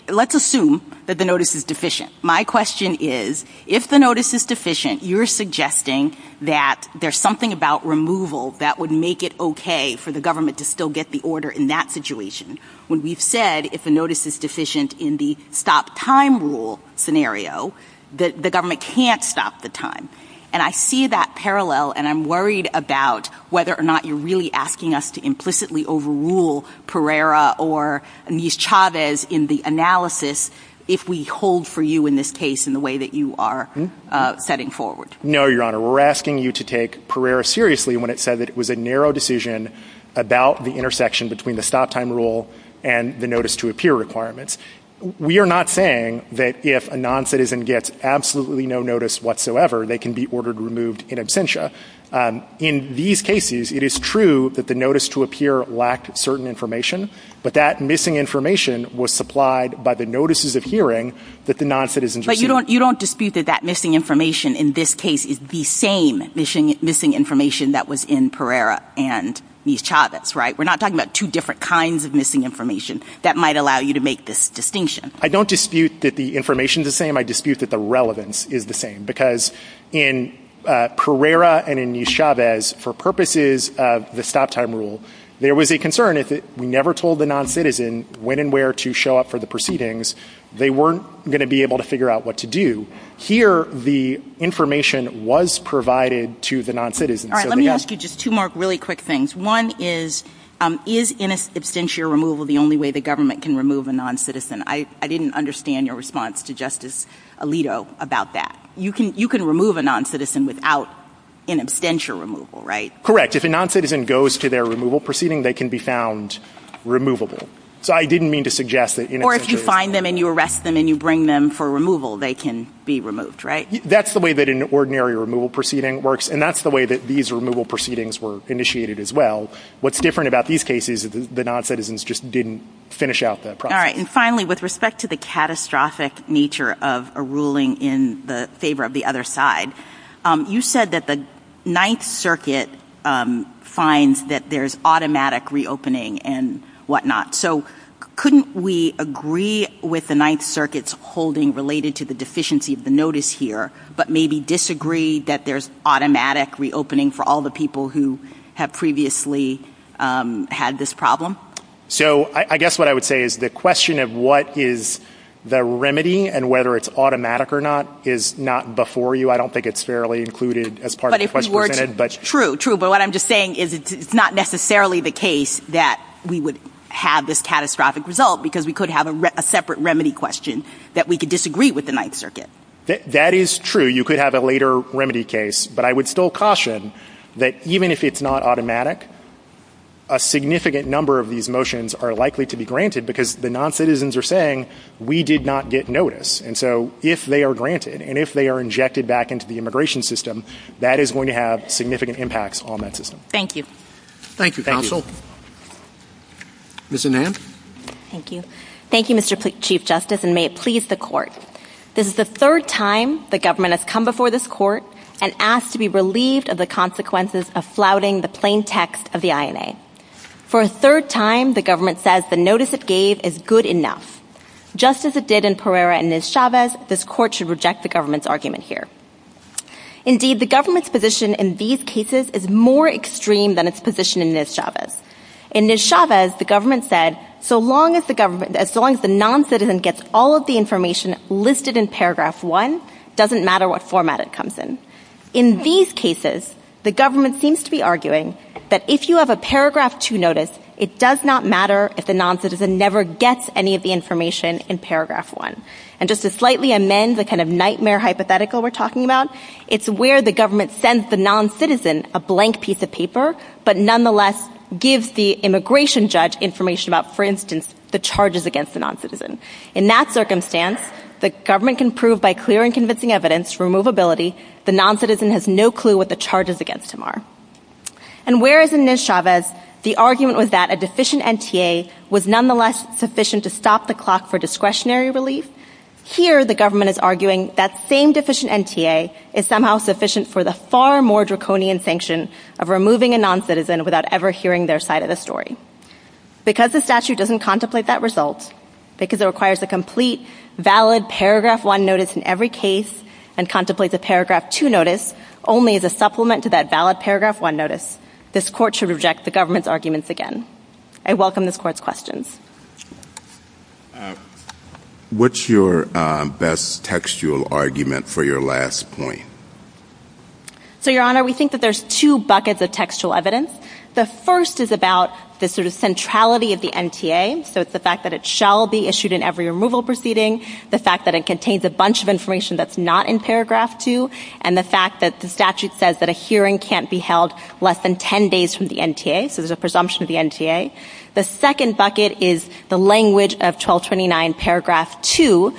Let's assume that the notice is deficient. My question is, if the notice is deficient, you're suggesting that there's something about removal that would make it okay for the government to still get the order in that situation. When we've said if the notice is deficient in the stop time rule scenario, the government can't stop the time. And I see that parallel and I'm worried about whether or not you're really asking us to take Pereira or Ms. Chavez in the analysis if we hold for you in this case in the way that you are setting forward. No, Your Honor, we're asking you to take Pereira seriously when it said that it was a narrow decision about the intersection between the stop time rule and the notice to appear requirements. We are not saying that if a non-citizen gets absolutely no notice whatsoever, they can be ordered removed in absentia. In these cases, it is true that the notice to appear lacked certain information, but that missing information was supplied by the notices of hearing that the non-citizen received. But you don't dispute that that missing information in this case is the same missing information that was in Pereira and Ms. Chavez, right? We're not talking about two different kinds of missing information that might allow you to make this distinction. I don't dispute that the information is the same. I dispute that the relevance is the same. Because in Pereira and in Ms. Chavez, for purposes of the stop time rule, there was a concern that if we never told the non-citizen when and where to show up for the proceedings, they weren't going to be able to figure out what to do. Here, the information was provided to the non-citizen. All right, let me ask you just two more really quick things. One is, is in absentia removal the only way the government can remove a non-citizen? I didn't understand your response to Justice Alito about that. You can remove a non-citizen without in absentia removal, right? Correct. If a non-citizen goes to their removal proceeding, they can be found removable. So I didn't mean to suggest that... Or if you find them and you arrest them and you bring them for removal, they can be removed, right? That's the way that an ordinary removal proceeding works. And that's the way that these removal proceedings were initiated as well. And finally, with respect to the catastrophic nature of a ruling in the favor of the other side, you said that the Ninth Circuit finds that there's automatic reopening and whatnot. So couldn't we agree with the Ninth Circuit's holding related to the deficiency of the notice here, but maybe disagree that there's automatic reopening for all the people who have previously had this problem? So I guess what I would say is the question of what is the remedy and whether it's automatic or not is not before you. I don't think it's fairly included as part of the question. But true, true. But what I'm just saying is it's not necessarily the case that we would have this catastrophic result because we could have a separate remedy question that we could disagree with the Ninth Circuit. That is true. You could have a later remedy case. But I would still caution that even if it's not automatic, a significant number of these motions are likely to be granted because the noncitizens are saying we did not get notice. And so if they are granted and if they are injected back into the immigration system, that is going to have significant impacts on that system. Thank you. Thank you, counsel. Ms. Anand. Thank you. Thank you, Mr. Chief Justice, and may it please the court. This is the third time the government has come before this court and asked to be relieved of the consequences of flouting the plain text of the INA. For a third time, the government says the notice it gave is good enough. Just as it did in Pereira and Ms. Chavez, this court should reject the government's argument here. Indeed, the government's position in these cases is more extreme than its position in Ms. Chavez. In Ms. Chavez, the government said so long as the government, as long as the noncitizen gets all of the information listed in Paragraph 1, it doesn't matter what format it comes in. In these cases, the government seems to be arguing that if you have a Paragraph 2 notice, it does not matter if the noncitizen never gets any of the information in Paragraph 1. And just to slightly amend the kind of nightmare hypothetical we're talking about, it's where the government sends the noncitizen a blank piece of paper, but nonetheless gives the immigration judge information about, for instance, the charges against the noncitizen. In that circumstance, the government can prove by clear and convincing evidence, removability, the noncitizen has no clue what the charges against him are. And whereas in Ms. Chavez, the argument was that a deficient NTA was nonetheless sufficient to stop the clock for discretionary relief, here the government is arguing that same deficient NTA is somehow sufficient for the far more draconian sanction of removing a noncitizen without ever hearing their side of the story. Because the statute doesn't contemplate that result, because it requires a complete, valid Paragraph 1 notice in every case and contemplates a Paragraph 2 notice only as a supplement to that valid Paragraph 1 notice, this court should reject the government's arguments again. I welcome this court's questions. What's your best textual argument for your last point? So, Your Honor, we think that there's two buckets of textual evidence. The first is about the sort of centrality of the NTA, so it's the fact that it shall be issued in every removal proceeding, the fact that it contains a bunch of information that's not in Paragraph 2, and the fact that the statute says that a hearing can't be held less than 10 days from the NTA, so there's a presumption of the NTA. The second bucket is the language of 1229 Paragraph 2,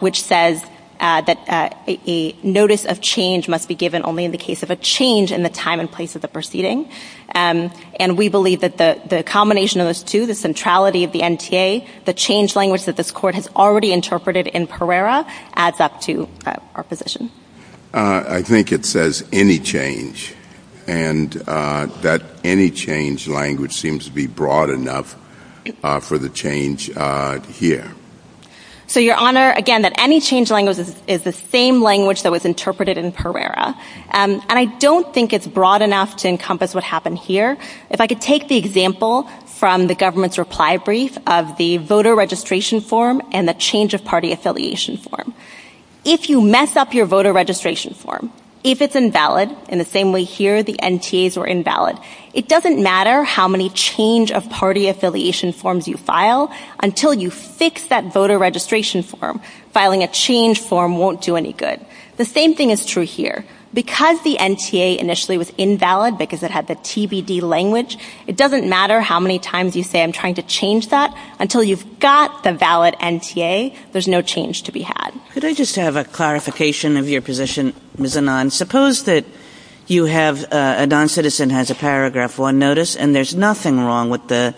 which says that a notice of change must be given only in the case of a change in the time and place of the proceeding. And we believe that the combination of those two, the centrality of the NTA, the change language that this court has already interpreted in Pereira, adds up to our position. I think it says any change, and that any change language seems to be broad enough for the change here. So, Your Honor, again, that any change language is the same language that was interpreted in Pereira, and I don't think it's broad enough to encompass what happened here. If I could take the example from the government's reply brief of the voter registration form and the change of party affiliation form. If you mess up your voter registration form, if it's invalid, in the same way here the NTAs were invalid, it doesn't matter how many change of party affiliation forms you file until you fix that voter registration form. Filing a change form won't do any good. The same thing is true here. Because the NTA initially was invalid, because it had the TBD language, it doesn't matter how many times you say, I'm trying to change that, until you've got the valid NTA, there's no change to be had. Could I just have a clarification of your position, Ms. Anand? Suppose that you have, a non-citizen has a paragraph one notice, and there's nothing wrong with the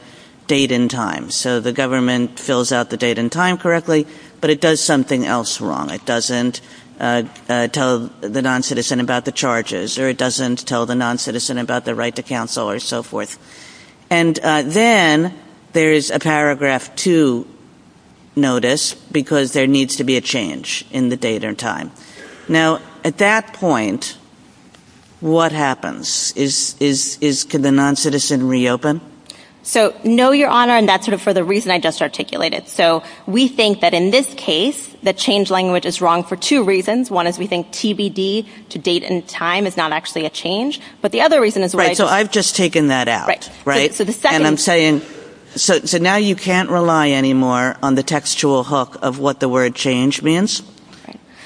date and time. So, the government fills out the date and time correctly, but it does something else wrong. It doesn't tell the non-citizen about the charges, or it doesn't tell the non-citizen about the right to counsel, or so forth. And then, there is a paragraph two notice, because there needs to be a change in the date and time. Now, at that point, what happens? Can the non-citizen reopen? So, no, Your Honor, and that's sort of for the reason I just articulated. So, we think that in this case, the change language is wrong for two reasons. One is, we think TBD, to date and time, is not actually a change. But the other reason is… Right, so I've just taken that out, right? And I'm saying, so now you can't rely anymore on the textual hook of what the word change means?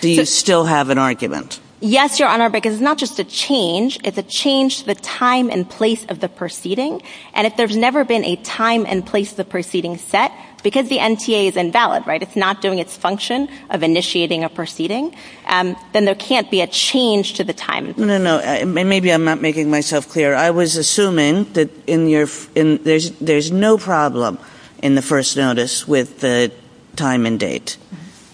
Do you still have an argument? Yes, Your Honor, because it's not just a change, it's a change to the time and place of the proceeding. And if there's never been a time and place of the proceeding set, because the NTA is invalid, right, it's not doing its function of initiating a proceeding, then there can't be a change to the time. No, no, maybe I'm not making myself clear. I was assuming that there's no problem in the first notice with the time and date.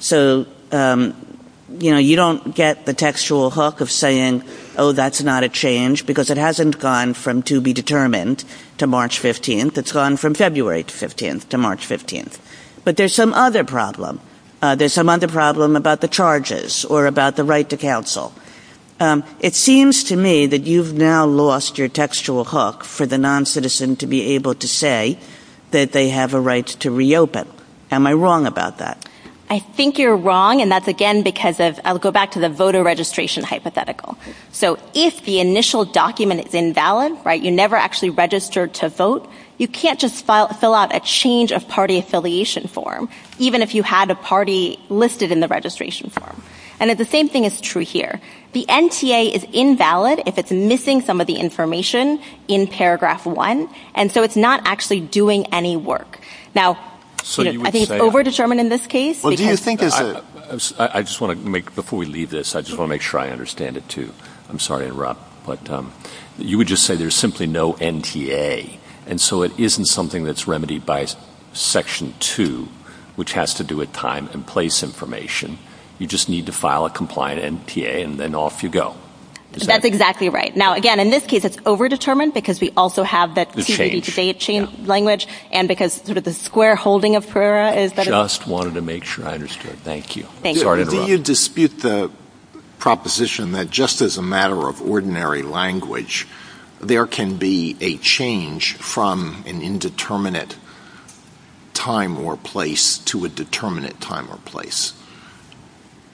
So, you know, you don't get the textual hook of saying, oh, that's not a change, because it hasn't gone from to be determined to March 15th. It's gone from February 15th to March 15th. But there's some other problem. There's some other problem about the charges or about the right to counsel. It seems to me that you've now lost your textual hook for the noncitizen to be able to say that they have a right to reopen. Am I wrong about that? I think you're wrong, and that's again because of… I'll go back to the voter registration hypothetical. So if the initial document is invalid, right, you never actually registered to vote, you can't just fill out a change of party affiliation form, even if you had a party listed in the registration form. And the same thing is true here. The NTA is invalid if it's missing some of the information in paragraph one, and so it's not actually doing any work. Now, I think it's overdetermined in this case. I just want to make, before we leave this, I just want to make sure I understand it, too. I'm sorry to interrupt, but you would just say there's simply no NTA, and so it isn't something that's remedied by section two, which has to do with time and place information. You just need to file a compliant NTA and then off you go. That's exactly right. Now, again, in this case, it's overdetermined because we also have the change of language and because sort of the square holding of… Just wanted to make sure I understood. Thank you. Thank you. Did you dispute the proposition that just as a matter of ordinary language, there can be a change from an indeterminate time or place to a determinate time or place?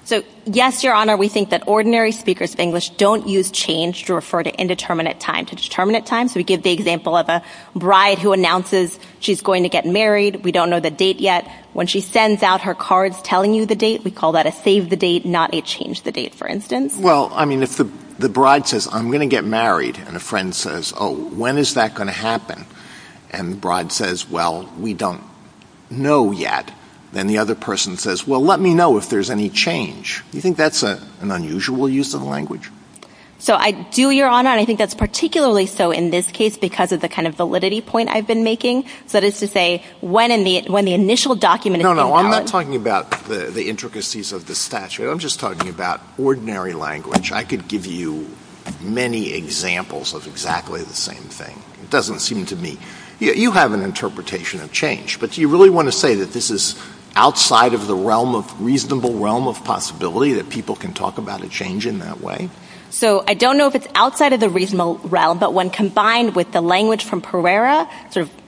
So, yes, Your Honor, we think that ordinary speakers of English don't use change to refer to indeterminate time. To determinate time, so we give the example of a bride who announces she's going to get married. We don't know the date yet. When she sends out her cards telling you the date, we call that a save the date, not a change the date, for instance. Well, I mean, if the bride says, I'm going to get married, and a friend says, oh, when is that going to happen? And the bride says, well, we don't know yet. Then the other person says, well, let me know if there's any change. You think that's an unusual use of language? So I do, Your Honor, and I think that's particularly so in this case because of the kind of validity point I've been making. That is to say, when the initial document is No, no, I'm not talking about the intricacies of the statute. I'm just talking about ordinary language. I could give you many examples of exactly the same thing. It doesn't seem to me. You have an interpretation of change, but do you really want to say that this is outside of the realm of reasonable realm of possibility that people can talk about a change in that way? So I don't know if it's outside of the reasonable realm, but when combined with the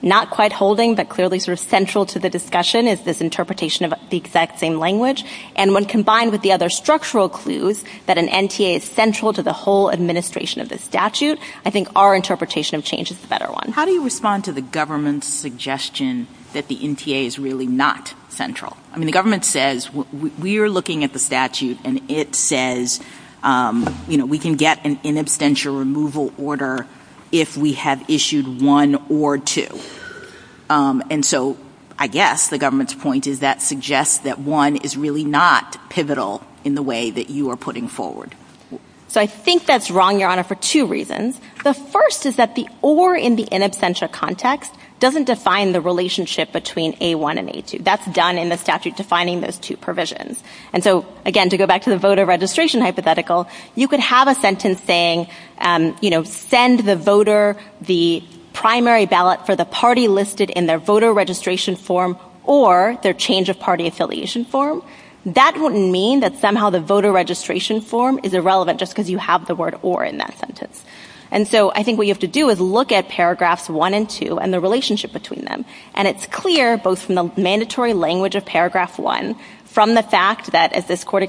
Not quite holding, but clearly sort of central to the discussion is this interpretation of the exact same language. And when combined with the other structural clues that an NTA is central to the whole administration of the statute, I think our interpretation of change is the better one. How do you respond to the government's suggestion that the NTA is really not central? I mean, the government says we're looking at the statute and it says, you know, we can get an in absentia removal order if we have issued one or two. And so I guess the government's point is that suggests that one is really not pivotal in the way that you are putting forward. So I think that's wrong, Your Honor, for two reasons. The first is that the or in the in absentia context doesn't define the relationship between A1 and A2. That's done in the statute defining those two provisions. And so again, to go back to the voter registration hypothetical, you could have a sentence saying, you know, send the voter the primary ballot for the party listed in their voter registration form or their change of party affiliation form. That wouldn't mean that somehow the voter registration form is irrelevant just because you have the word or in that sentence. And so I think what you have to do is look at paragraphs one and two and the relationship between them. And it's clear both from the mandatory language of paragraph one from the fact that, as this to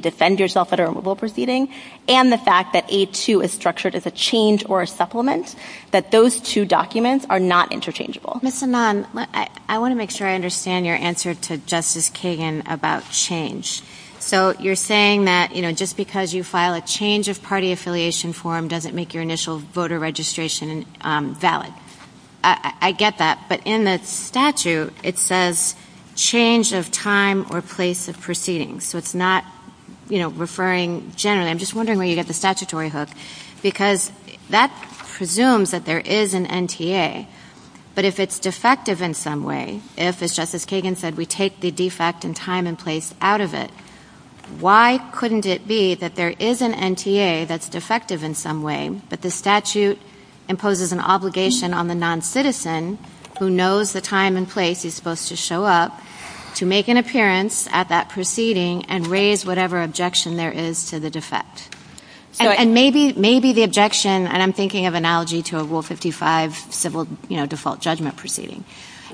defend yourself at a removal proceeding and the fact that A2 is structured as a change or a supplement, that those two documents are not interchangeable. Ms. Hannon, I want to make sure I understand your answer to Justice Kagan about change. So you're saying that, you know, just because you file a change of party affiliation form doesn't make your initial voter registration valid. I get that. But in the statute, it says change of time or place of proceedings. So it's not, you know, referring generally. I'm just wondering where you get the statutory hook, because that presumes that there is an NTA. But if it's defective in some way, if, as Justice Kagan said, we take the defect in time and place out of it, why couldn't it be that there is an NTA that's defective in some way, but the statute imposes an obligation on the noncitizen who knows the time and place he's supposed to show up to make an appearance at that proceeding and raise whatever objection there is to the defect? And maybe the objection, and I'm thinking of an analogy to a Rule 55 civil, you know, default judgment proceeding.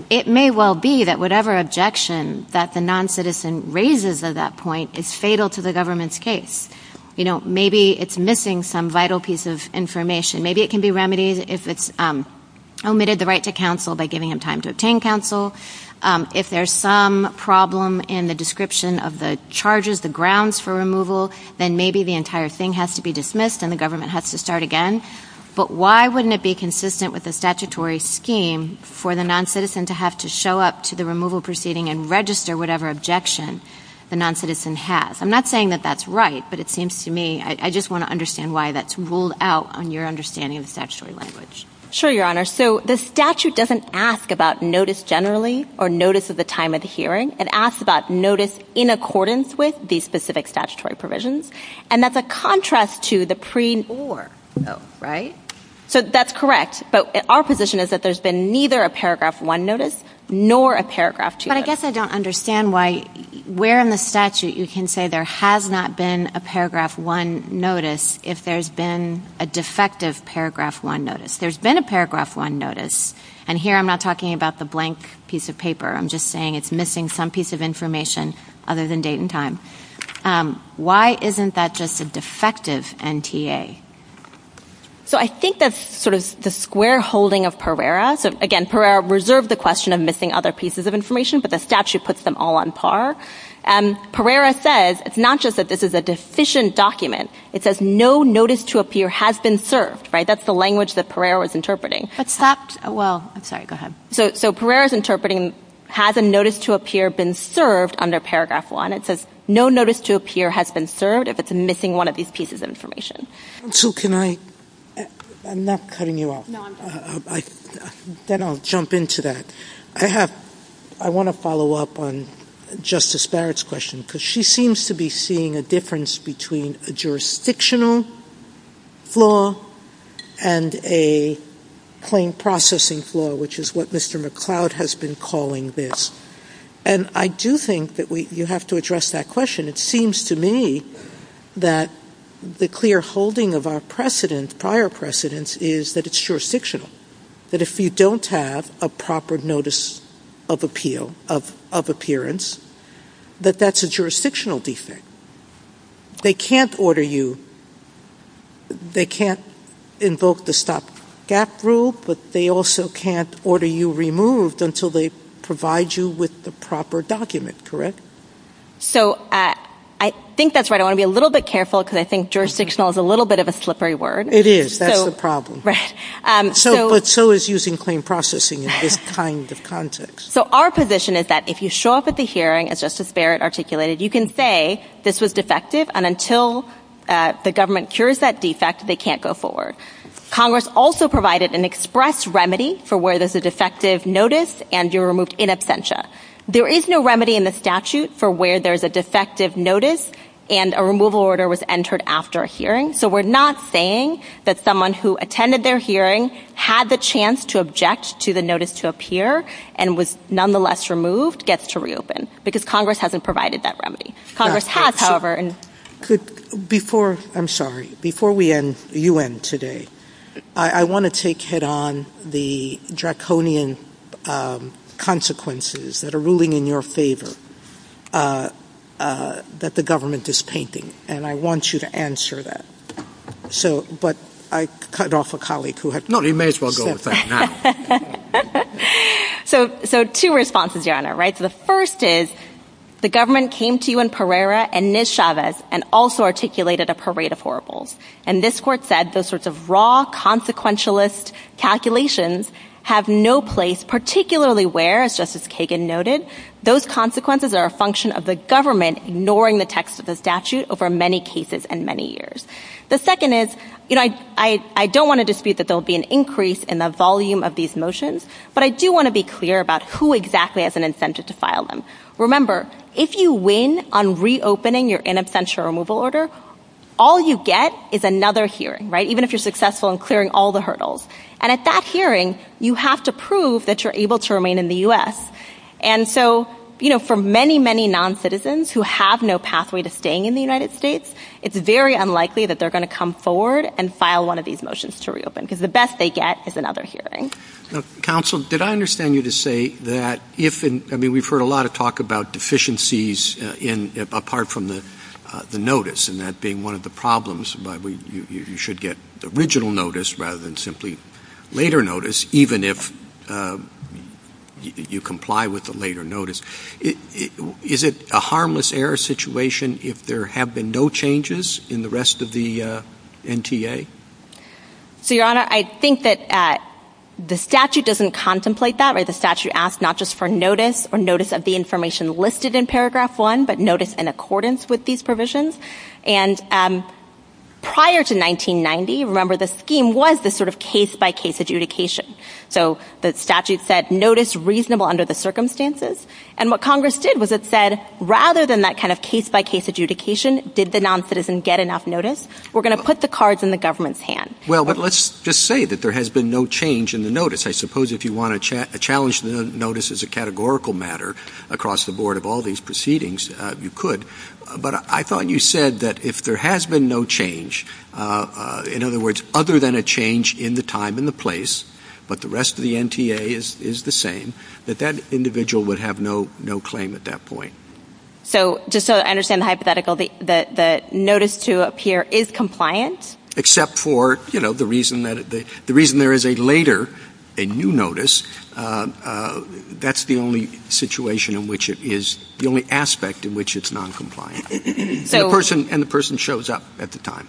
It may well be that whatever objection that the noncitizen raises at that point is fatal to the government's case. You know, maybe it's missing some vital piece of information. Maybe it can be remedied if it's omitted the right to counsel by giving him time to If there's some problem in the description of the charges, the grounds for removal, then maybe the entire thing has to be dismissed and the government has to start again. But why wouldn't it be consistent with the statutory scheme for the noncitizen to have to show up to the removal proceeding and register whatever objection the noncitizen has? I'm not saying that that's right, but it seems to me, I just want to understand why that's ruled out on your understanding of the statutory language. Sure, Your Honor. So the statute doesn't ask about notice generally or notice of the time of the hearing. It asks about notice in accordance with these specific statutory provisions. And that's a contrast to the pre-or, right? So that's correct. But our position is that there's been neither a Paragraph 1 notice nor a Paragraph 2. But I guess I don't understand why where in the statute you can say there has not been a Paragraph 1 notice if there's been a defective Paragraph 1 notice. There's been a Paragraph 1 notice. And here I'm not talking about the blank piece of paper. I'm just saying it's missing some piece of information other than date and time. Why isn't that just a defective NTA? So I think that's sort of the square holding of Pereira. So again, Pereira reserved the question of missing other pieces of information, but the statute puts them all on par. Pereira says it's not just that this is a deficient document. It says no notice to appear has been served, right? That's the language that Pereira was interpreting. Except, well, sorry, go ahead. So Pereira's interpreting has a notice to appear been served under Paragraph 1. It says no notice to appear has been served if it's missing one of these pieces of information. And so can I, I'm not cutting you off. Then I'll jump into that. I have, I want to follow up on Justice Barrett's question, because she seems to be seeing a difference between a jurisdictional flaw and a claim processing flaw, which is what Mr. McCloud has been calling this. And I do think that we, you have to address that question. It seems to me that the clear holding of our precedent, prior precedence, is that it's jurisdictional. That if you don't have a proper notice of appeal, of appearance, that that's a jurisdictional defect. They can't order you, they can't invoke the stop-gap rule, but they also can't order you removed until they provide you with the proper document, correct? So I think that's right. I want to be a little bit careful, because I think jurisdictional is a little bit of a slippery word. It is, that's the problem. Right. But so is using claim processing in this kind of context. So our position is that if you show up at the hearing, as Justice Barrett articulated, you can say this was defective and until the government cures that defect, they can't go forward. Congress also provided an express remedy for where there's a defective notice and you're removed in absentia. There is no remedy in the statute for where there's a defective notice and a removal order was entered after a hearing. So we're not saying that someone who attended their hearing had the chance to object to the notice to appear and was nonetheless removed gets to reopen, because Congress hasn't provided that remedy. Congress has, however, and... Before, I'm sorry, before we end UN today, I want to take head on the draconian consequences that are ruling in your favor that the government is painting, and I want you to answer that. But I cut off a colleague who had... No, you may as well go with that now. So two responses, Your Honor, right? The first is the government came to you in Pereira and Ms. Chavez and also articulated a parade of horribles. And this court said those sorts of raw consequentialist calculations have no place, particularly where, as Justice Kagan noted, those consequences are a function of the government ignoring the text of the statute over many cases and many years. The second is, you know, I don't want to dispute that there'll be an increase in the volume of these motions, but I do want to be clear about who exactly has an incentive to file them. Remember, if you win on reopening your in absentia removal order, all you get is another hearing, right? Even if you're successful in clearing all the hurdles. And at that hearing, you have to prove that you're able to remain in the US. And so, you know, for many, many non-citizens who have no pathway to staying in the United States, it's very unlikely that they're going to come forward and file one of these motions to reopen, because the best they get is another hearing. Counsel, did I understand you to say that if... I mean, we've heard a lot of talk about deficiencies apart from the notice, and that being one of the problems, but you should get the original notice rather than simply later notice, even if you comply with the later notice. Is it a harmless error situation if there have been no changes in the rest of the NTA? So, Your Honor, I think that the statute doesn't contemplate that, where the statute asks not just for notice or notice of the information listed in paragraph one, but notice in accordance with these provisions. And prior to 1990, remember, the scheme was this sort of case-by-case adjudication. So the statute said notice reasonable under the circumstances. And what Congress did was it said, rather than that kind of case-by-case adjudication, did the non-citizen get enough notice? We're going to put the cards in the government's hand. Well, but let's just say that there has been no change in the notice. I suppose if you want to challenge the notice as a categorical matter across the board of all these proceedings, you could. But I thought you said that if there has been no change, in other words, other than a change in the time and the place, but the rest of the NTA is the same, that that individual would have no claim at that point. So just so I understand the hypothetical, the notice to appear is compliant? Except for, you know, the reason there is a later, a new notice. That's the only situation in which it is, the only aspect in which it's non-compliant. And the person shows up at the time.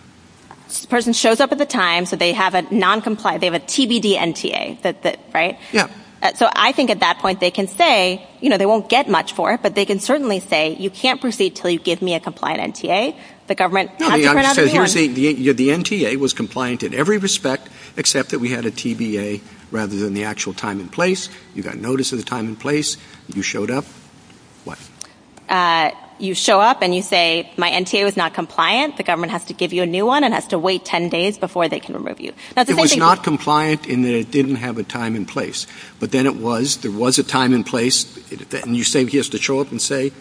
The person shows up at the time, so they have a non-compliant, they have a TBD NTA, right? Yeah. So I think at that point they can say, you know, they won't get much for it, but they can certainly say, you can't proceed until you give me a compliant NTA. The government has to put out a ban. The NTA was compliant in every respect, except that we had a TBA rather than the actual time and place. You got notice of the time and place. You showed up. What? You show up and you say, my NTA was not compliant. The government has to give you a new one and has to wait 10 days before they can remove you. It was not compliant in that it didn't have a time and place. But then it was, there was a time and place. You're saying he has to show up and say,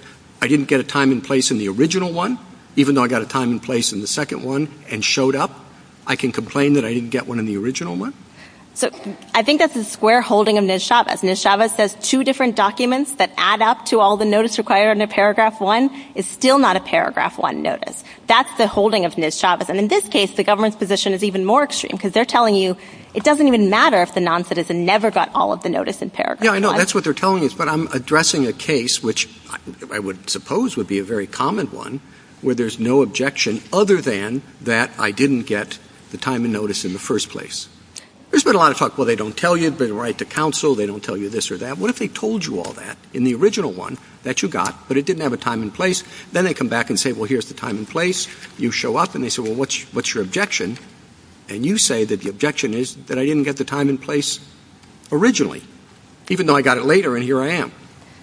I didn't get a time and place in the original one, even though I got a time and place in the second one and showed up. I can complain that I didn't get one in the original one. I think that's a square holding of Niz Chavez. Niz Chavez says two different documents that add up to all the notice required in the paragraph one is still not a paragraph one notice. That's the holding of Niz Chavez. And in this case, the government's position is even more extreme because they're telling you it doesn't even matter if the non-citizen never got all of the notice in paragraph one. That's what they're telling us. But I'm addressing a case which I would suppose would be a very common one where there's no objection other than that I didn't get the time and notice in the first place. There's been a lot of talk. Well, they don't tell you the right to counsel. They don't tell you this or that. What if they told you all that in the original one that you got, but it didn't have a time and place. Then they come back and say, well, here's the time and place. You show up and they say, well, what's your objection? And you say that the objection is that I didn't get the time and place originally, even though I got it later. And here I am.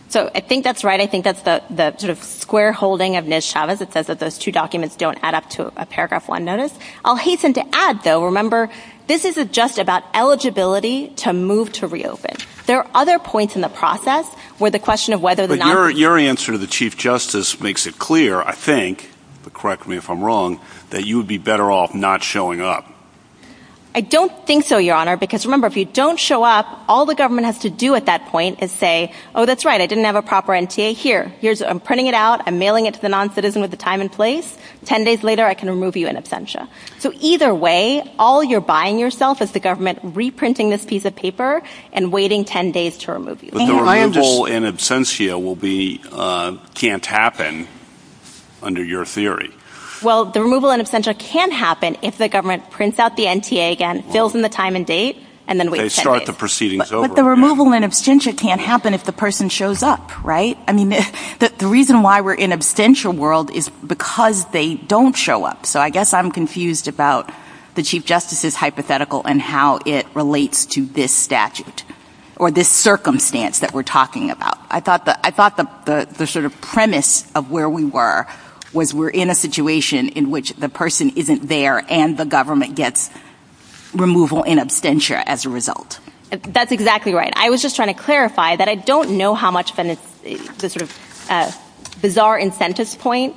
So I think that's right. I think that's the sort of square holding of Niz Chavez. It says that those two documents don't add up to a paragraph one notice. I'll hasten to add, though, remember, this isn't just about eligibility to move to reopen. There are other points in the process where the question of whether... But your answer to the Chief Justice makes it clear, I think, but correct me if I'm wrong, that you would be better off not showing up. I don't think so, Your Honor, because remember, if you don't show up, all the government has to do at that point is say, oh, that's right, I didn't have a proper NTA here. I'm printing it out. I'm mailing it to the non-citizen with the time and place. Ten days later, I can remove you in absentia. So either way, all you're buying yourself is the government reprinting this piece of paper and waiting 10 days to remove you. But the removal in absentia can't happen under your theory. Well, the removal in absentia can happen if the government prints out the NTA again, fills in the time and date, and then waits 10 days. They start the proceedings over. But the removal in absentia can't happen if the person shows up, right? I mean, the reason why we're in absentia world is because they don't show up. So I guess I'm confused about the Chief Justice's hypothetical and how it relates to this statute or this circumstance that we're talking about. I thought the sort of premise of where we were was we're in a situation in which the person isn't there and the government gets removal in absentia as a result. That's exactly right. I was just trying to clarify that I don't know how much then is the sort of bizarre incentives point.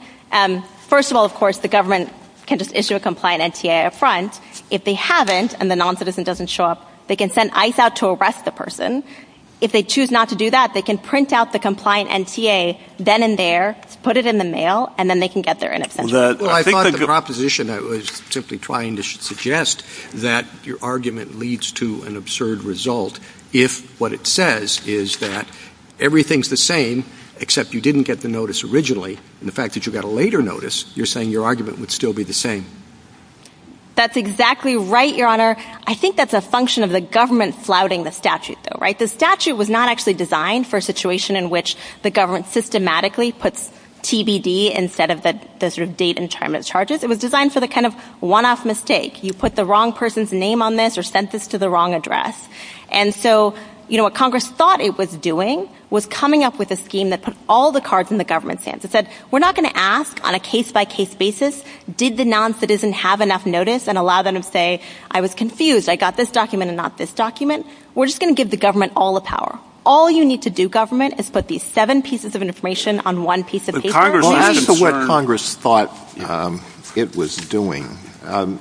First of all, of course, the government can just issue a compliant NTA up front. If they haven't and the non-citizen doesn't show up, they can send ICE out to arrest the person. If they choose not to do that, they can print out the compliant NTA then and there, put it in the mail, and then they can get their in absentia. I thought of the proposition that was simply trying to suggest that your argument leads to an absurd result if what it says is that everything's the same, except you didn't get the notice originally. And the fact that you got a later notice, you're saying your argument would still be the same. That's exactly right, Your Honor. I think that's a function of the government flouting the statute, though, right? The statute was not actually designed for a situation in which the government systematically puts TBD instead of the sort of date and time of charges. It was designed for the kind of one-off mistake. You put the wrong person's name on this or sent this to the wrong address. And so, you know, what Congress thought it was doing was coming up with a scheme that put all the cards in the government's hands. It said, we're not going to ask on a case-by-case basis, did the non-citizen have enough notice and allow them to say, I was confused, I got this document and not this document. We're just going to give the government all the power. All you need to do, government, is put these seven pieces of information on one piece of paper. Well, as to what Congress thought it was doing,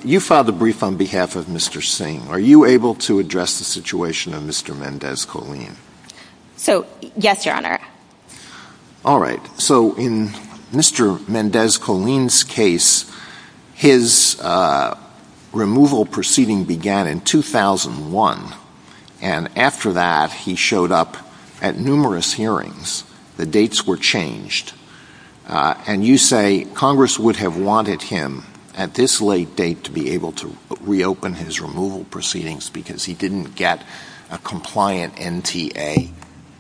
you filed the brief on behalf of Mr. Singh. Are you able to address the situation of Mr. Mendez-Coleen? So, yes, Your Honor. All right. So, in Mr. Mendez-Coleen's case, his removal proceeding began in 2001. And after that, he showed up at numerous hearings. The dates were changed. And you say Congress would have wanted him, at this late date, to be able to reopen his removal proceedings because he didn't get a compliant NTA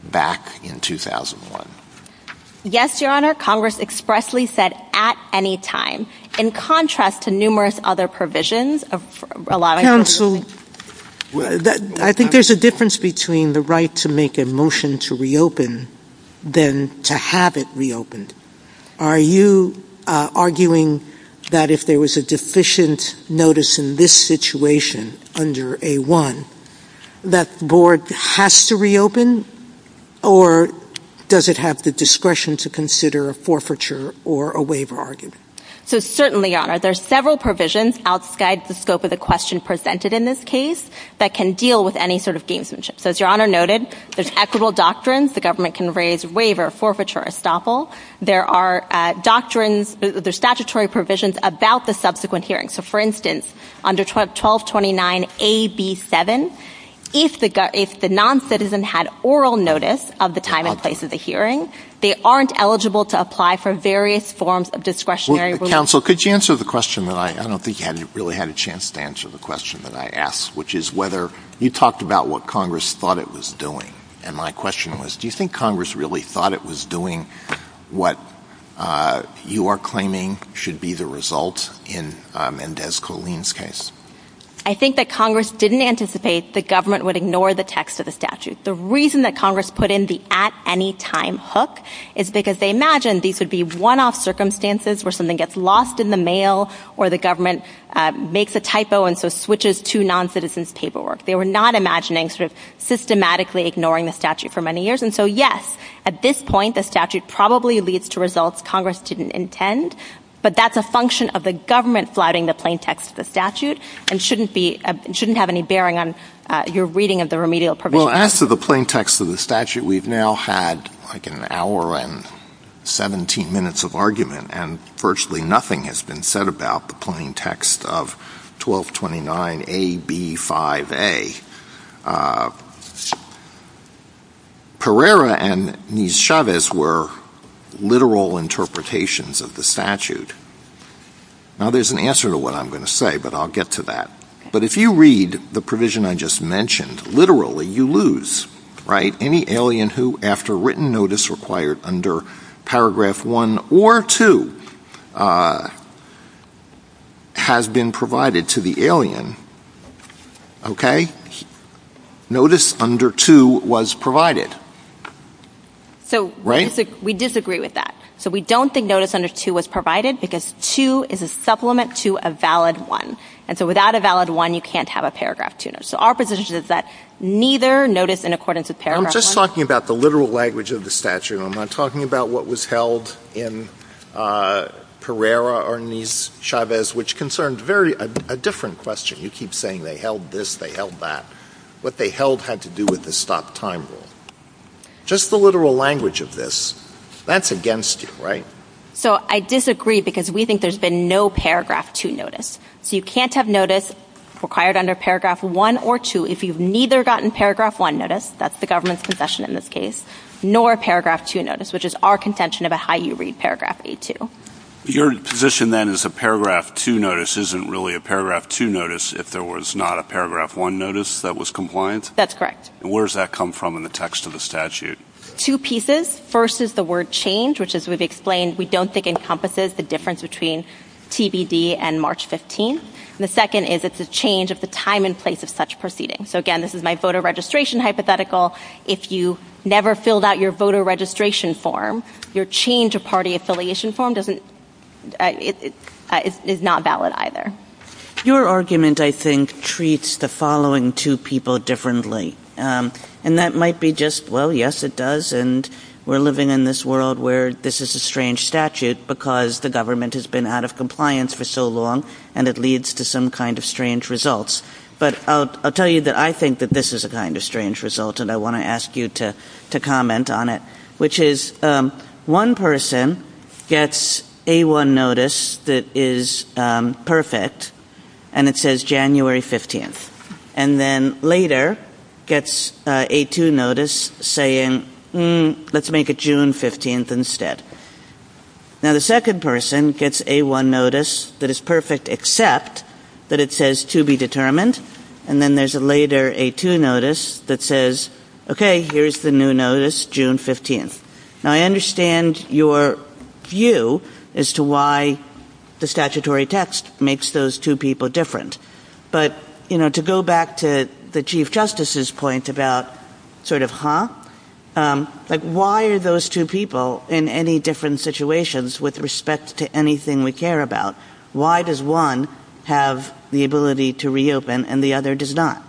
back in 2001. Yes, Your Honor. Congress expressly said, at any time. In contrast to numerous other provisions of a lot of... Yeah, so, I think there's a difference between the right to make a motion to reopen than to have it reopened. Are you arguing that if there was a deficient notice in this situation under A-1, that the board has to reopen? Or does it have the discretion to consider a forfeiture or a waiver argument? So, certainly, Your Honor. There's several provisions outside the scope of the question presented in this case that can deal with any sort of deemsmanship. So, as Your Honor noted, there's equitable doctrines. The government can raise waiver, forfeiture, estoppel. There are doctrines... There's statutory provisions about the subsequent hearing. So, for instance, under 1229-AB-7, if the non-citizen had oral notice of the time and place of the hearing, they aren't eligible to apply for various forms of discretionary relief. Counsel, could you answer the question that I... I don't think you really had a chance to answer the question that I asked, which is whether... You talked about what Congress thought it was doing. And my question was, do you think Congress really thought it was doing what you are claiming should be the result in Mendez-Coleen's case? I think that Congress didn't anticipate the government would ignore the text of the statute. The reason that Congress put in the at-any-time hook is because they imagined these would be one-off circumstances where something gets lost in the mail or the government makes a typo and so switches to non-citizen's paperwork. They were not imagining sort of systematically ignoring the statute for many years. So, yes, at this point, the statute probably leads to results Congress didn't intend, but that's a function of the government flouting the plain text of the statute and shouldn't have any bearing on your reading of the remedial provisions. Well, as to the plain text of the statute, we've now had like an hour and 17 minutes of argument and virtually nothing has been said about the plain text of 1229-AB-5A. Pereira and Chavez were literal interpretations of the statute. Now, there's an answer to what I'm going to say, but I'll get to that. But if you read the provision I just mentioned, literally, you lose, right? Any alien who, after written notice required under paragraph one or two, has been provided to the alien, okay? Notice under two was provided, right? We disagree with that. So we don't think notice under two was provided because two is a supplement to a valid one. And so without a valid one, you can't have a paragraph tuner. So our position is that neither notice in accordance with paragraph one... I'm just talking about the literal language of the statute. I'm not talking about what was held in Pereira or Chavez, which concerned a very different question. You keep saying they held this, they held that. What they held had to do with the stopped time rule. Just the literal language of this, that's against you, right? So I disagree because we think there's been no paragraph two notice. So you can't have notice required under paragraph one or two if you've neither gotten paragraph one notice, that's the government's confession in this case, nor paragraph two notice, which is our contention about how you read paragraph A-2. Your position then is a paragraph two notice isn't really a paragraph two notice if there was not a paragraph one notice that was compliant? That's correct. And where does that come from in the text of the statute? Two pieces. First is the word change, which as we've explained, we don't think encompasses the difference between TBD and March 15th. And the second is it's a change of the time and place of such proceedings. So again, this is my voter registration hypothetical. If you never filled out your voter registration form, your change of party affiliation form is not valid either. Your argument, I think, treats the following two people differently. And that might be just, well, yes, it does. And we're living in this world where this is a strange statute because the government has been out of compliance for so long and it leads to some kind of strange results. But I'll tell you that I think that this is a kind of strange result and I want to ask you to comment on it, which is one person gets a one notice that is perfect and it says January 15th. And then later gets a two notice saying, let's make it June 15th instead. Now, the second person gets a one notice that is perfect, except that it says to be determined. And then there's a later a two notice that says, OK, here's the new notice, June 15th. Now, I understand your view as to why the statutory text makes those two people different. But, you know, to go back to the chief justice's point about sort of, huh? Like, why are those two people in any different situations with respect to anything we care about? Why does one have the ability to reopen and the other does not?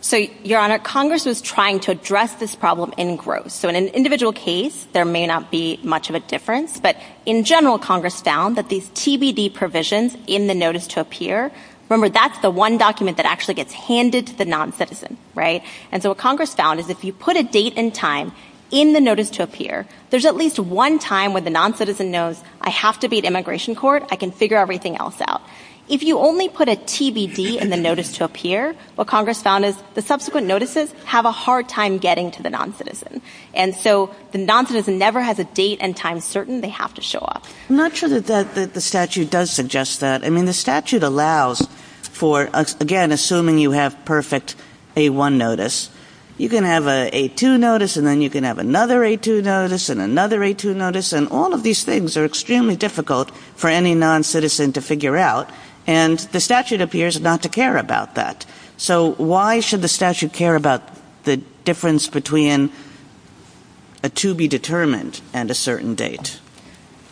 So, Your Honor, Congress is trying to address this problem in growth. So in an individual case, there may not be much of a difference. But in general, Congress found that these TBD provisions in the notice to appear. Remember, that's the one document that actually gets handed to the noncitizen, right? And so what Congress found is if you put a date and time in the notice to appear, there's at least one time when the noncitizen knows I have to be at immigration court, I can figure everything else out. If you only put a TBD in the notice to appear, what Congress found is the subsequent notices have a hard time getting to the noncitizen. And so the noncitizen never has a date and time certain they have to show up. I'm not sure that the statute does suggest that. I mean, the statute allows for, again, assuming you have perfect A1 notice, you can have an A2 notice and then you can have another A2 notice and another A2 notice. And all of these things are extremely difficult for any noncitizen to figure out. And the statute appears not to care about that. So why should the statute care about the difference between a to be determined and a certain date?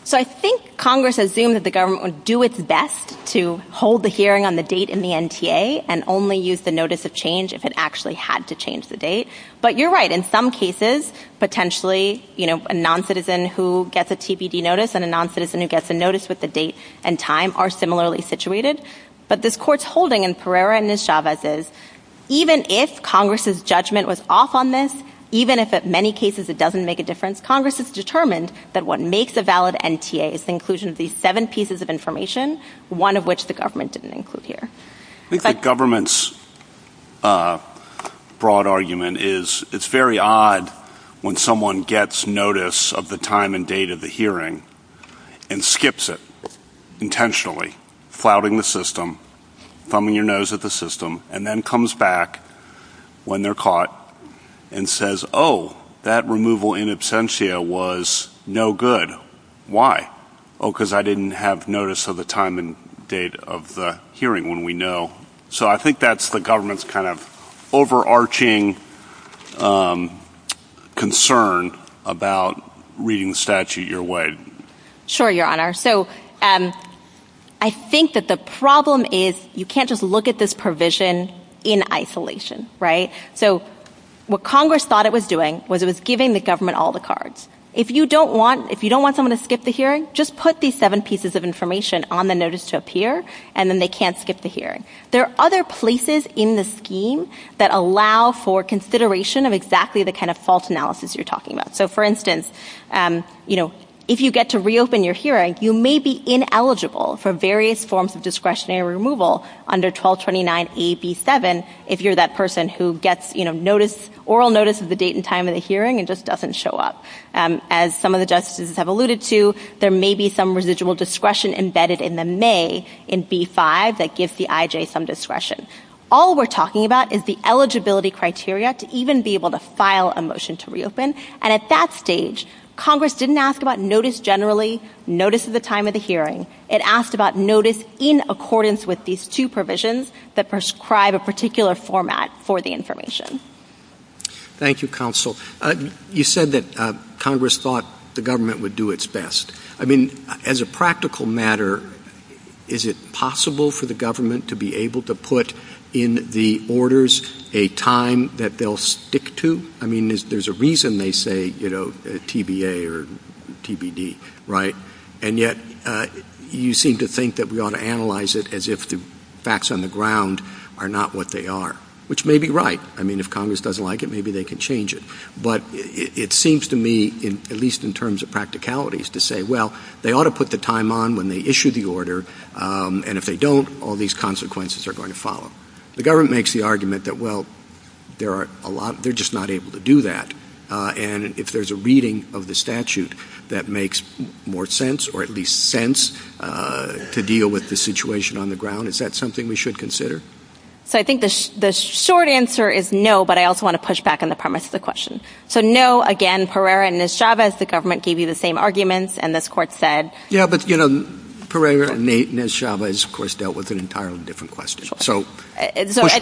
So I think Congress assumes that the government would do its best to hold the hearing on the date in the NTA and only use the notice of change if it actually had to change the date. But you're right, in some cases, potentially, you know, a noncitizen who gets a TBD notice and a noncitizen who gets a notice with the date and time are similarly situated. But this court's holding in Pereira v. Chavez is, even if Congress's judgment was off on this, even if in many cases it doesn't make a difference, Congress has determined that what makes a valid NTA is the inclusion of these seven pieces of information, one of which the government didn't include here. I think the government's broad argument is it's very odd when someone gets notice of the time and date of the hearing and skips it. Intentionally, flouting the system, thumbing your nose at the system, and then comes back when they're caught and says, oh, that removal in absentia was no good. Why? Oh, because I didn't have notice of the time and date of the hearing when we know. So I think that's the government's kind of overarching concern about reading the statute your way. Sure, Your Honor. So I think that the problem is you can't just look at this provision in isolation, right? So what Congress thought it was doing was it was giving the government all the cards. If you don't want someone to skip the hearing, just put these seven pieces of information on the notice to appear, and then they can't skip the hearing. There are other places in the scheme that allow for consideration of exactly the kind of false analysis you're talking about. For instance, if you get to reopen your hearing, you may be ineligible for various forms of discretionary removal under 1229AB7 if you're that person who gets oral notice of the date and time of the hearing and just doesn't show up. As some of the justices have alluded to, there may be some residual discretion embedded in the may in B-5 that gives the IJ some discretion. All we're talking about is the eligibility criteria to even be able to file a motion to reopen. And at that stage, Congress didn't ask about notice generally, notice of the time of the hearing. It asked about notice in accordance with these two provisions that prescribe a particular format for the information. Thank you, Counsel. You said that Congress thought the government would do its best. I mean, as a practical matter, is it possible for the government to be able to put in the orders a time that they'll stick to? I mean, there's a reason they say, you know, TBA or TBD, right? And yet, you seem to think that we ought to analyze it as if the facts on the ground are not what they are, which may be right. I mean, if Congress doesn't like it, maybe they can change it. But it seems to me, at least in terms of practicalities, to say, well, they ought to put the time on when they issue the order. And if they don't, all these consequences are going to follow. The government makes the argument that, well, there are a lot, they're just not able to do that. And if there's a reading of the statute that makes more sense, or at least sense to deal with the situation on the ground, is that something we should consider? So I think the short answer is no, but I also want to push back on the premise of the question. So no, again, Pereira and Nez Chavez, the government gave you the same arguments. And this court said... Yeah, but, you know, Pereira and Nez Chavez, of course, dealt with an entirely different question. So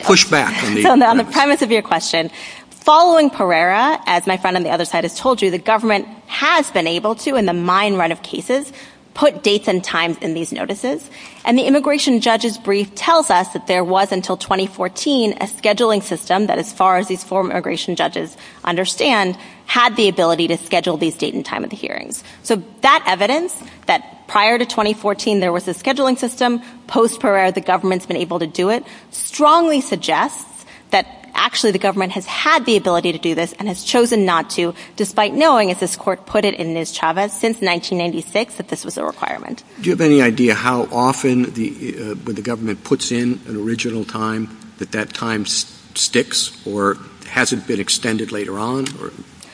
push back. On the premise of your question, following Pereira, as my friend on the other side has told you, the government has been able to, in the mine run of cases, put dates and times in these notices. And the immigration judge's brief tells us that there was, until 2014, a scheduling system that, as far as these former immigration judges understand, had the ability to schedule these date and time of hearings. So that evidence, that prior to 2014, there was a scheduling system, post-Pereira, the government's been able to do it, strongly suggests that actually the government has had the ability to do this and has chosen not to, despite knowing, as this court put it, in Nez Chavez, since 1996, that this was a requirement. Do you have any idea how often when the government puts in an original time, that that time sticks or hasn't been extended later on?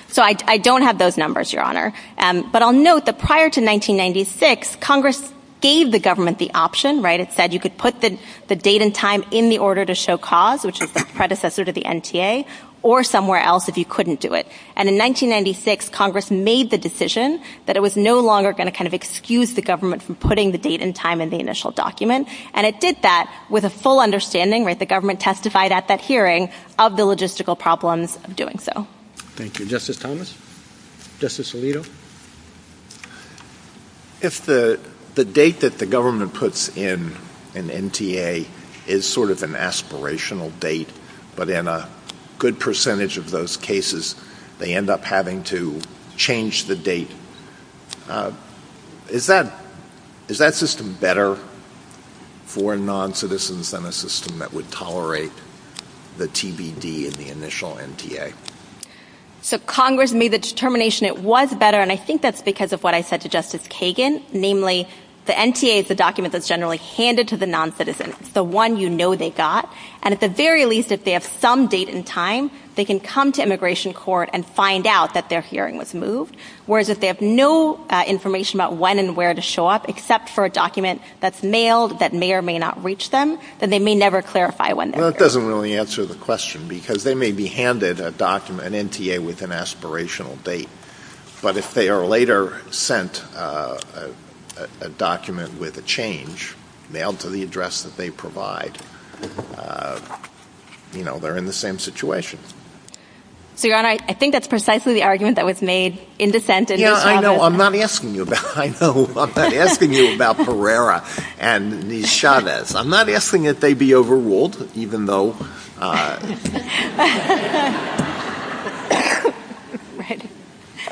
So I don't have those numbers, Your Honor. But I'll note that prior to 1996, Congress gave the government the option, said you could put the date and time in the order to show cause, which is the predecessor to the NTA, or somewhere else if you couldn't do it. And in 1996, Congress made the decision that it was no longer going to excuse the government from putting the date and time in the initial document. And it did that with a full understanding, the government testified at that hearing, of the logistical problems of doing so. Thank you. Justice Thomas? Justice Alito? If the date that the government puts in an NTA is sort of an aspirational date, but in a good percentage of those cases, they end up having to change the date, is that system better for non-citizens than a system that would tolerate the TBD in the initial NTA? So Congress made the determination it was better. And I think that's because of what I said to Justice Kagan, namely, the NTA is the document that's generally handed to the non-citizens, the one you know they got. And at the very least, if they have some date and time, they can come to immigration court and find out that their hearing was moved. Whereas if they have no information about when and where to show up, except for a document that's mailed, that may or may not reach them, then they may never clarify when. That doesn't really answer the question, because they may be handed a document, an NTA with an aspirational date. But if they are later sent a document with a change, mailed to the address that they provide, you know, they're in the same situation. So, Your Honor, I think that's precisely the argument that was made in dissent. You know, I know I'm not asking you about, I know I'm not asking you about Pereira and these Chavez. I'm not asking that they be overruled, even though...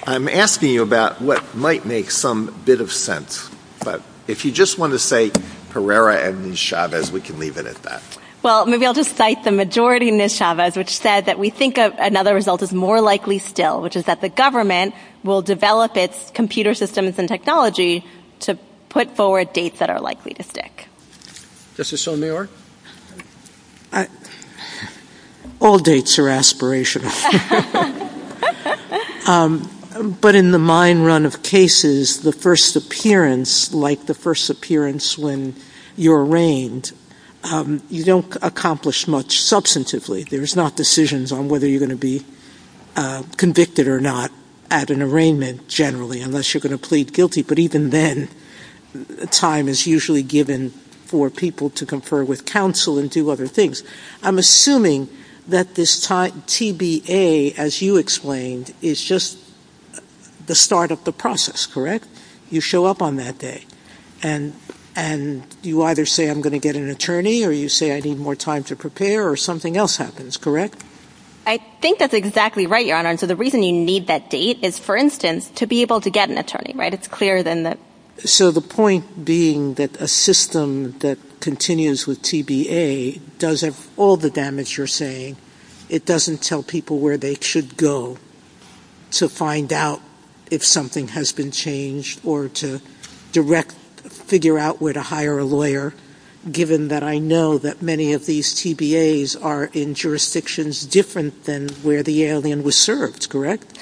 I'm asking you about what might make some bit of sense. But if you just want to say Pereira and these Chavez, we can leave it at that. Well, maybe I'll just cite the majority in the Chavez, which said that we think of another result is more likely still, which is that the government will develop its computer systems and technology to put forward dates that are likely to stick. Justice Sotomayor? All dates are aspirational. But in the mine run of cases, the first appearance, like the first appearance when you're arraigned, you don't accomplish much substantively. There is not decisions on whether you're going to be convicted or not at an arraignment, generally, unless you're going to plead guilty. But even then, time is usually given for people to confer with counsel and do other things. I'm assuming that this time, TBA, as you explained, is just the start of the process, correct? You show up on that day and you either say I'm going to get an attorney or you say I need more time to prepare or something else happens, correct? I think that's exactly right, Your Honor. So the reason you need that date is, for instance, to be able to get an attorney, right? It's clearer than that. So the point being that a system that continues with TBA does have all the damage you're saying. It doesn't tell people where they should go to find out if something has been changed or to direct, figure out where to hire a lawyer, given that I know that many of these TBAs are in jurisdictions different than where the alien was served, correct?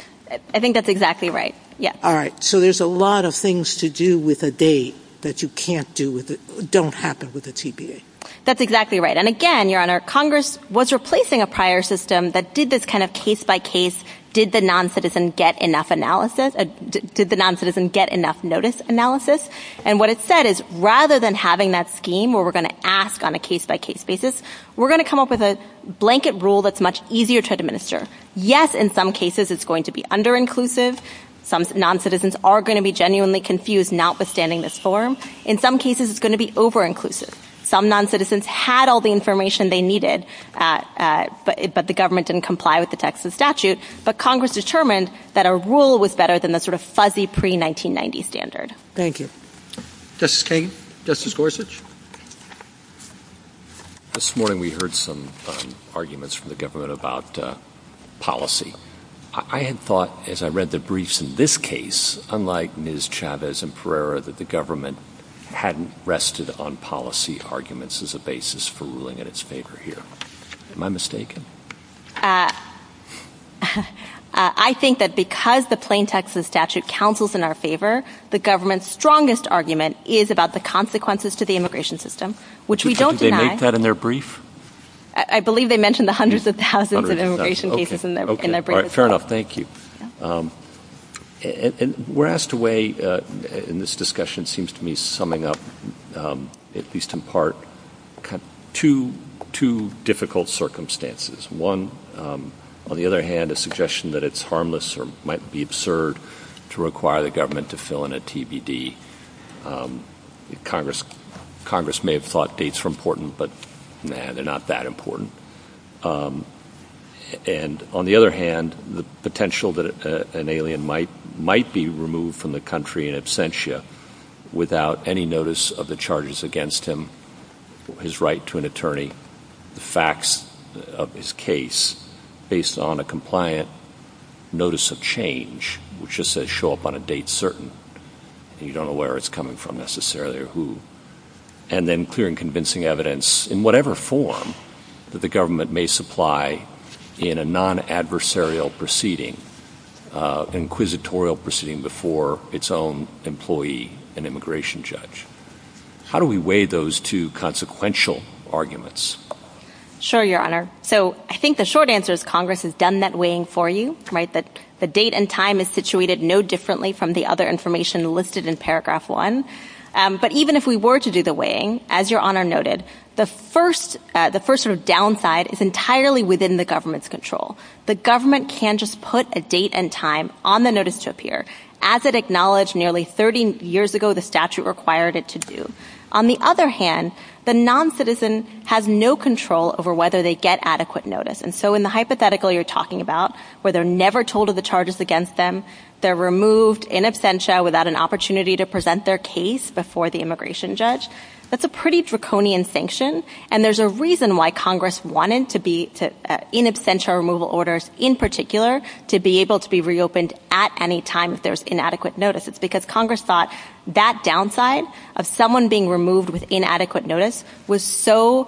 I think that's exactly right, yeah. All right. So there's a lot of things to do that you can't do with it, don't happen with the TBA. That's exactly right. And again, Your Honor, Congress was replacing a prior system that did this kind of case by case. Did the non-citizen get enough analysis? Did the non-citizen get enough notice analysis? And what it said is rather than having that scheme where we're going to ask on a case by case basis, we're going to come up with a blanket rule that's much easier to administer. Yes, in some cases, it's going to be under-inclusive. Some non-citizens are going to be genuinely confused, notwithstanding the form. In some cases, it's going to be over-inclusive. Some non-citizens had all the information they needed, but the government didn't comply with the Texas statute. But Congress determined that a rule was better than the sort of fuzzy pre-1990 standard. Thank you. Justice Kagan, Justice Gorsuch. This morning, we heard some arguments from the government about policy. I had thought, as I read the briefs in this case, unlike Ms. Chavez and Pereira, that the government hadn't rested on policy arguments as a basis for ruling in its favor here. Am I mistaken? I think that because the plain Texas statute counsels in our favor, the government's strongest argument is about the consequences to the immigration system, which we don't deny. Did they make that in their brief? I believe they mentioned the hundreds of thousands of immigration cases in their brief as well. Fair enough. Thank you. And we're asked to weigh, in this discussion, seems to me summing up, at least in part, two difficult circumstances. One, on the other hand, a suggestion that it's harmless or might be absurd to require the government to fill in a TBD. Congress may have thought dates were important, but they're not that important. And on the other hand, the potential that an alien might be removed from the country in absentia without any notice of the charges against him, his right to an attorney, the facts of his case based on a compliant notice of change, which just says show up on a date certain. You don't know where it's coming from, necessarily, or who. And then clear and convincing evidence, in whatever form, that the government may supply in a non-adversarial proceeding inquisitorial proceeding before its own employee and immigration judge. How do we weigh those two consequential arguments? Sure, Your Honor. So I think the short answer is Congress has done that weighing for you. The date and time is situated no differently from the other information listed in paragraph one. But even if we were to do the weighing, as Your Honor noted, the first sort of downside is entirely within the government's control. The government can just put a date and time on the notice to appear as it acknowledged nearly 30 years ago, the statute required it to do. On the other hand, the non-citizen has no control over whether they get adequate notice. And so in the hypothetical you're talking about, where they're never told of the charges against them, they're removed in absentia without an opportunity to present their case before the immigration judge, that's a pretty draconian sanction. And there's a reason why Congress wanted to be in absentia removal orders in particular to be able to be reopened at any time if there's inadequate notice. It's because Congress thought that downside of someone being removed with inadequate notice was so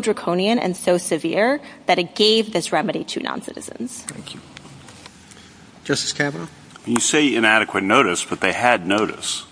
draconian and so severe that it gave this remedy to non-citizens. Thank you. Justice Kavanaugh? You say inadequate notice, but they had notice.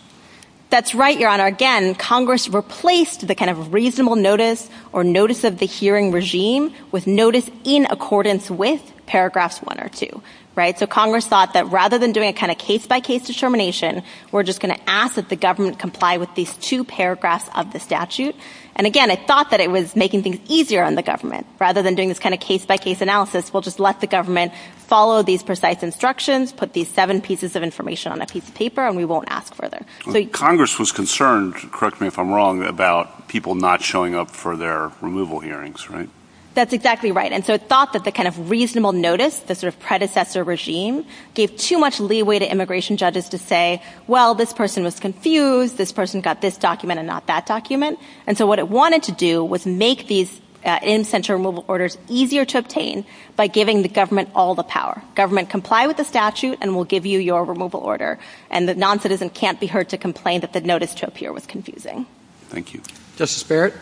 That's right, Your Honor. Again, Congress replaced the kind of reasonable notice or notice of the hearing regime with notice in accordance with paragraphs one or two, right? So Congress thought that rather than doing a kind of case-by-case determination, we're just going to ask if the government comply with these two paragraphs of the statute. And again, I thought that it was making things easier on the government rather than doing this kind of case-by-case analysis. We'll just let the government follow these precise instructions, put these seven pieces of information on a piece of paper, and we won't ask further. Congress was concerned, correct me if I'm wrong, about people not showing up for their removal hearings, right? That's exactly right. And so it's thought that the kind of reasonable notice, the sort of predecessor regime, gave too much leeway to immigration judges to say, well, this person was confused, this person got this document and not that document. And so what it wanted to do was make these in-center removal orders easier to obtain by giving the government all the power. Government, comply with the statute and we'll give you your removal order. And the noncitizen can't be heard to complain that the notice took here was confusing. Thank you. Justice Barrett?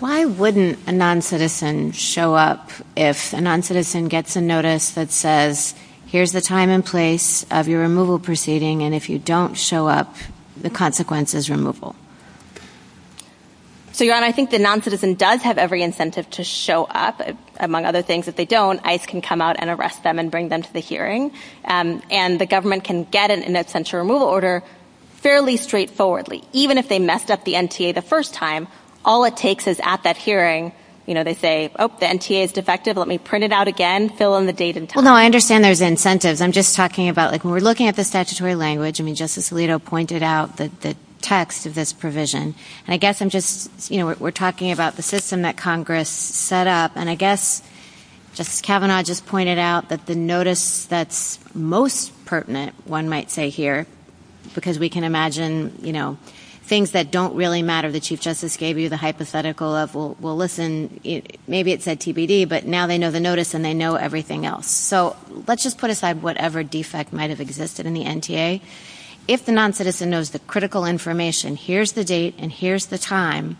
Why wouldn't a noncitizen show up if a noncitizen gets a notice that says, here's the time and place of your removal proceeding, and if you don't show up, the consequence is removal? So, Your Honor, I think the noncitizen does have every incentive to show up. Among other things, if they don't, ICE can come out and arrest them and bring them to the hearing. And the government can get fairly straightforwardly. Even if they messed up the NTA the first time, all it takes is at that hearing, you know, they say, oh, the NTA is defective. Let me print it out again, fill in the date and time. Well, no, I understand there's incentives. I'm just talking about, like, when we're looking at the statutory language, I mean, Justice Alito pointed out the text of this provision. And I guess I'm just, you know, we're talking about the system that Congress set up. And I guess, Justice Kavanaugh just pointed out that the notice that's most pertinent, one might say here, because we can imagine, you know, things that don't really matter the Chief Justice gave you the hypothetical of, well, listen, maybe it said TBD, but now they know the notice and they know everything else. So let's just put aside whatever defect might have existed in the NTA. If the non-citizen knows the critical information, here's the date and here's the time.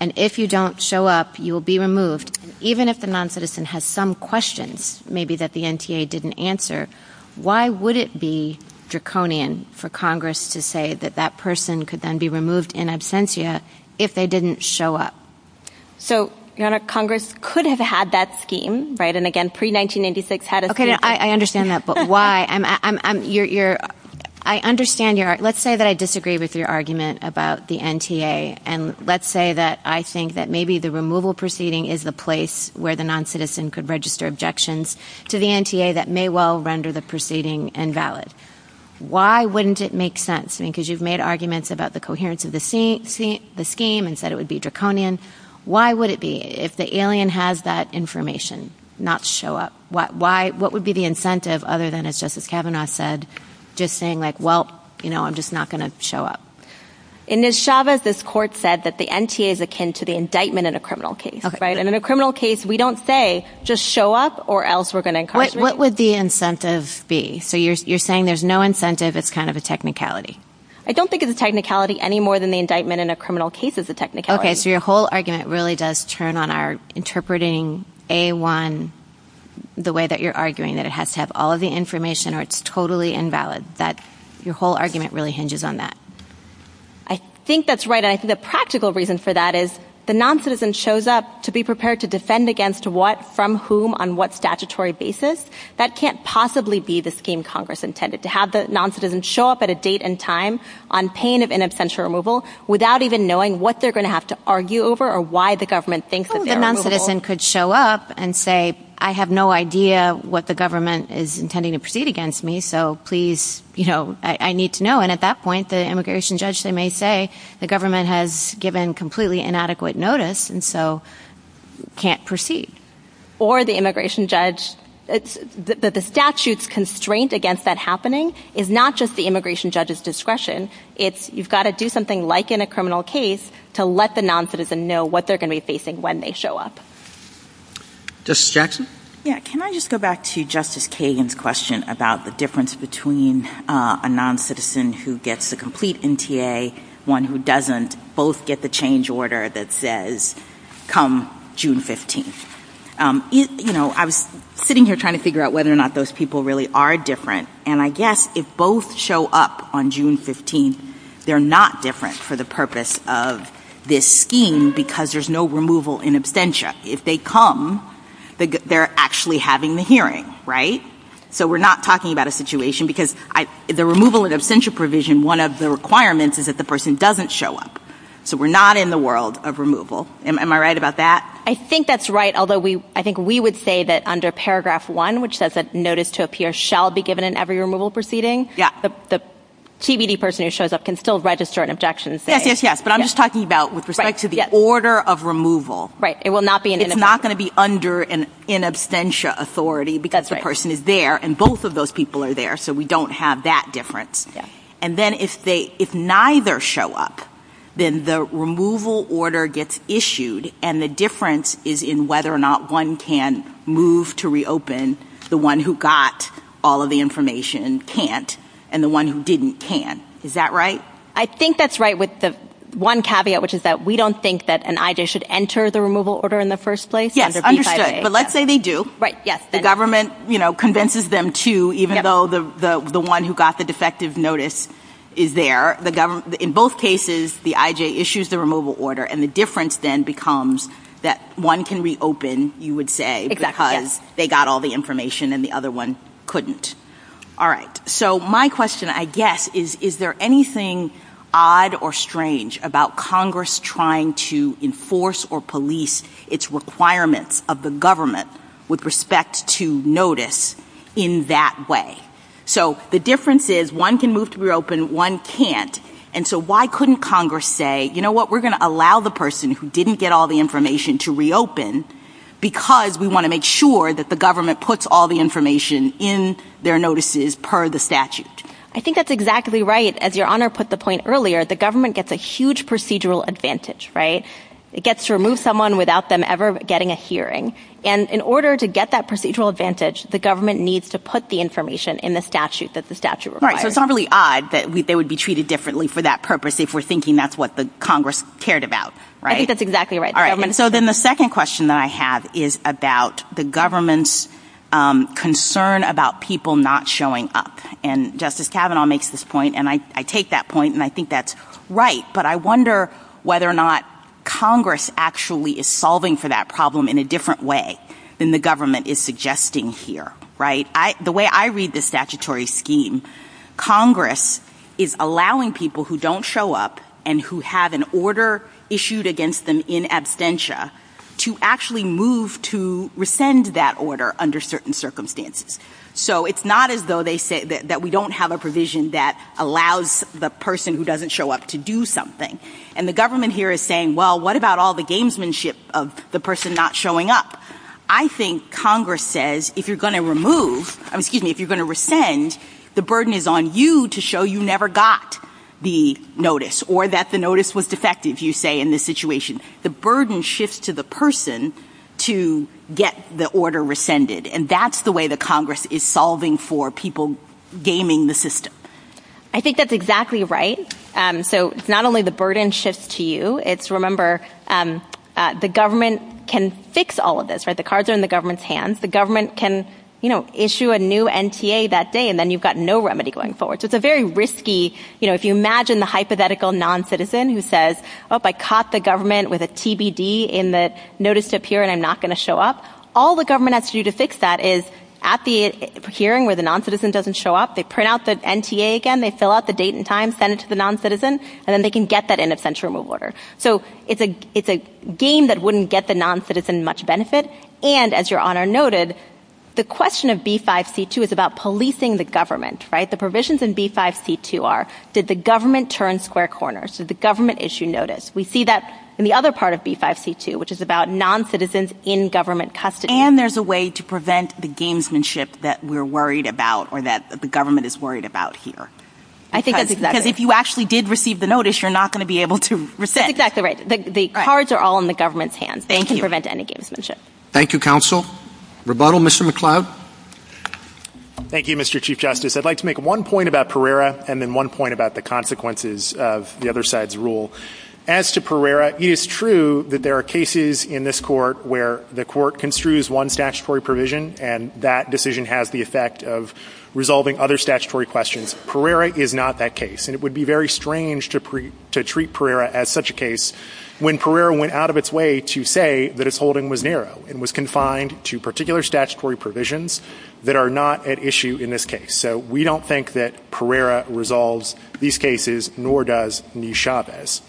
And if you don't show up, you will be removed. Even if the non-citizen has some questions, maybe that the NTA didn't answer, why would it be draconian for Congress to say that that person could then be removed in absentia if they didn't show up? So, Your Honor, Congress could have had that scheme, right? And again, pre-1996 had it. Okay, I understand that. But why? I understand your... Let's say that I disagree with your argument about the NTA. And let's say that I think that maybe the removal proceeding is the place where the non-citizen could register objections to the NTA that may well render the proceeding invalid. Why wouldn't it make sense? I mean, because you've made arguments about the coherence of the scheme and said it would be draconian. Why would it be if the alien has that information not show up? What would be the incentive other than it's just, as Kavanaugh said, just saying like, well, you know, I'm just not going to show up. And Ms. Chavez, this court said that the NTA is akin to the indictment in a criminal case, right? And in a criminal case, we don't say, just show up or else we're going to incarcerate. What would the incentive be? So you're saying there's no incentive, it's kind of a technicality. I don't think it's a technicality any more than the indictment in a criminal case is a technicality. So your whole argument really does turn on our interpreting A-1 the way that you're arguing that it has to have all of the information or it's totally invalid. That's your whole argument really hinges on that. I think that's right. And I think the practical reason for that is the non-citizen shows up to be prepared to defend against what, from whom, on what statutory basis. That can't possibly be the scheme Congress intended to have the non-citizens show up at a date and time on pain of in absentia removal without even knowing what they're going to have to argue over or why the government thinks that they're removable. The non-citizen could show up and say, I have no idea what the government is intending to proceed against me, so please, you know, I need to know. And at that point, the immigration judge, they may say the government has given completely inadequate notice and so can't proceed. Or the immigration judge, the statute's constraint against that happening is not just the immigration judge's discretion. It's you've got to do something like in a criminal case to let the non-citizen know what they're going to be facing when they show up. Justice Jackson? Yeah, can I just go back to Justice Kagan's question about the difference between a non-citizen who gets the complete NTA, one who doesn't, both get the change order that says come June 15th. You know, I was sitting here trying to figure out whether or not those people really are different. And I guess if both show up on June 15th, they're not different for the purpose of this scheme because there's no removal in absentia. If they come, they're actually having the hearing. Right? So we're not talking about a situation because the removal in absentia provision, one of the requirements is that the person doesn't show up. So we're not in the world of removal. Am I right about that? I think that's right. Although we, I think we would say that under paragraph one, which says that notice to appear shall be given in every removal proceeding. Yeah, the TBD person who shows up can still register Yes, yes, yes. But I'm just talking about with respect to the order of removal. Right. It will not be it's not going to be under an in absentia authority because the person is there and both of those people are there. So we don't have that difference. And then if they, if neither show up, then the removal order gets issued. And the difference is in whether or not one can move to reopen. The one who got all of the information can't and the one who didn't can. Is that right? I think that's right with the one caveat, which is that we don't think that an IJ should enter the removal order in the first place. Yeah, understood. But let's say they do. Right. Yes. The government, you know, convinces them to, even though the one who got the defective notice is there. The government, in both cases, the IJ issues the removal order and the difference then becomes that one can reopen, you would say, because they got all the information and the other one couldn't. All right. So my question, I guess, is there anything odd or strange about Congress trying to enforce or police its requirements of the government with respect to notice in that way? So the difference is one can move to reopen, one can't. And so why couldn't Congress say, you know what, we're going to allow the person who didn't get all the information to reopen because we want to make sure that the government puts all the information in their notices per the statute. I think that's exactly right. As Your Honor put the point earlier, the government gets a huge procedural advantage, right? It gets to remove someone without them ever getting a hearing. And in order to get that procedural advantage, the government needs to put the information in the statute that the statute requires. Right. So it's not really odd that they would be treated differently for that purpose if we're thinking that's what the Congress cared about, right? I think that's exactly right. All right. So then the second question that I have is about the government's concern about people not showing up and Justice Kavanaugh makes this point. And I take that point and I think that's right. But I wonder whether or not Congress actually is solving for that problem in a different way than the government is suggesting here, right? The way I read the statutory scheme, Congress is allowing people who don't show up and who have an order issued against them in absentia to actually move to rescind that order under certain circumstances. So it's not as though they say that we don't have a provision that allows the person who doesn't show up to do something. And the government here is saying, well, what about all the gamesmanship of the person not showing up? I think Congress says if you're going to remove, excuse me, if you're going to rescind, the burden is on you to show you never got the notice or that the notice was defective, you say, in this situation. The burden shifts to the person to get the order rescinded. And that's the way the Congress is solving for people gaming the system. I think that's exactly right. So it's not only the burden shifts to you. It's remember, the government can fix all of this. The cards are in the government's hands. The government can, you know, issue a new NTA that day and then you've got no remedy going forward. So it's a very risky, you know, if you imagine the hypothetical non-citizen who says, well, if I caught the government with a TBD in the notice to appear and I'm not going to show up, all the government has to do to fix that is at the hearing where the non-citizen doesn't show up, they print out the NTA again, they fill out the date and time, send it to the non-citizen, and then they can get that in a sentencing order. So it's a game that wouldn't get the non-citizen much benefit. And as your honor noted, the question of B5C2 is about policing the government, right? The provisions in B5C2 are, did the government turn square corners? Did the government issue notice? We see that in the other part of B5C2, which is about non-citizens in government custody. And there's a way to prevent the gamesmanship that we're worried about or that the government is worried about here. Because if you actually did receive the notice, you're not going to be able to resist. That's exactly right. The cards are all in the government's hands. They can prevent any gamesmanship. Thank you, counsel. Rebuttal, Mr. McCloud. Thank you, Mr. Chief Justice. I'd like to make one point about Pereira and then one point about the consequences of the other side's rule. As to Pereira, it is true that there are cases in this court where the court construes one statutory provision and that decision has the effect of resolving other statutory questions. Pereira is not that case. And it would be very strange to treat Pereira as such a case when Pereira went out of its way to say that its holding was narrow and was confined to particular statutory provisions that are not at issue in this case. So we don't think that Pereira resolves these cases, nor does New Chavez.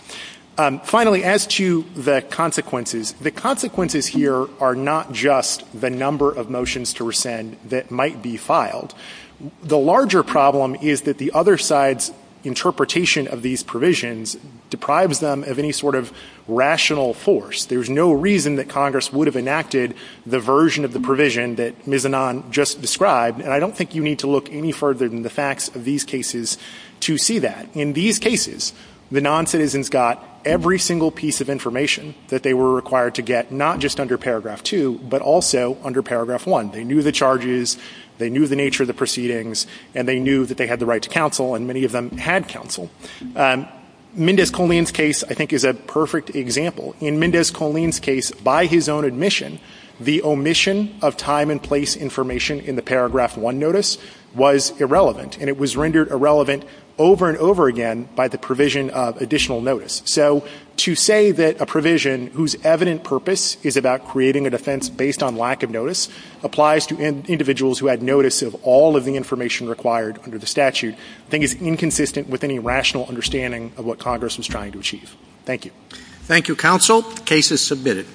Finally, as to the consequences, the consequences here are not just the number of motions to rescind that might be filed. The larger problem is that the other side's interpretation of these provisions deprives them of any sort of rational force. There's no reason that Congress would have enacted the version of the provision that Ms. Annan just described. And I don't think you need to look any further than the facts of these cases to see that. In these cases, the noncitizens got every single piece of information that they were required to get, not just under paragraph two, but also under paragraph one. They knew the charges, they knew the nature of the proceedings, and they knew that they had the right to counsel, and many of them had counsel. Mendez-Coleen's case, I think, is a perfect example. In Mendez-Coleen's case, by his own admission, the omission of time and place information in the paragraph one notice was irrelevant, and it was rendered irrelevant over and over again by the provision of additional notice. So to say that a provision whose evident purpose is about creating a defense based on lack of notice applies to individuals who had notice of all of the information required under the statute, I think is inconsistent with any rational understanding of what Congress was trying to achieve. Thank you. Thank you, counsel. Case is submitted.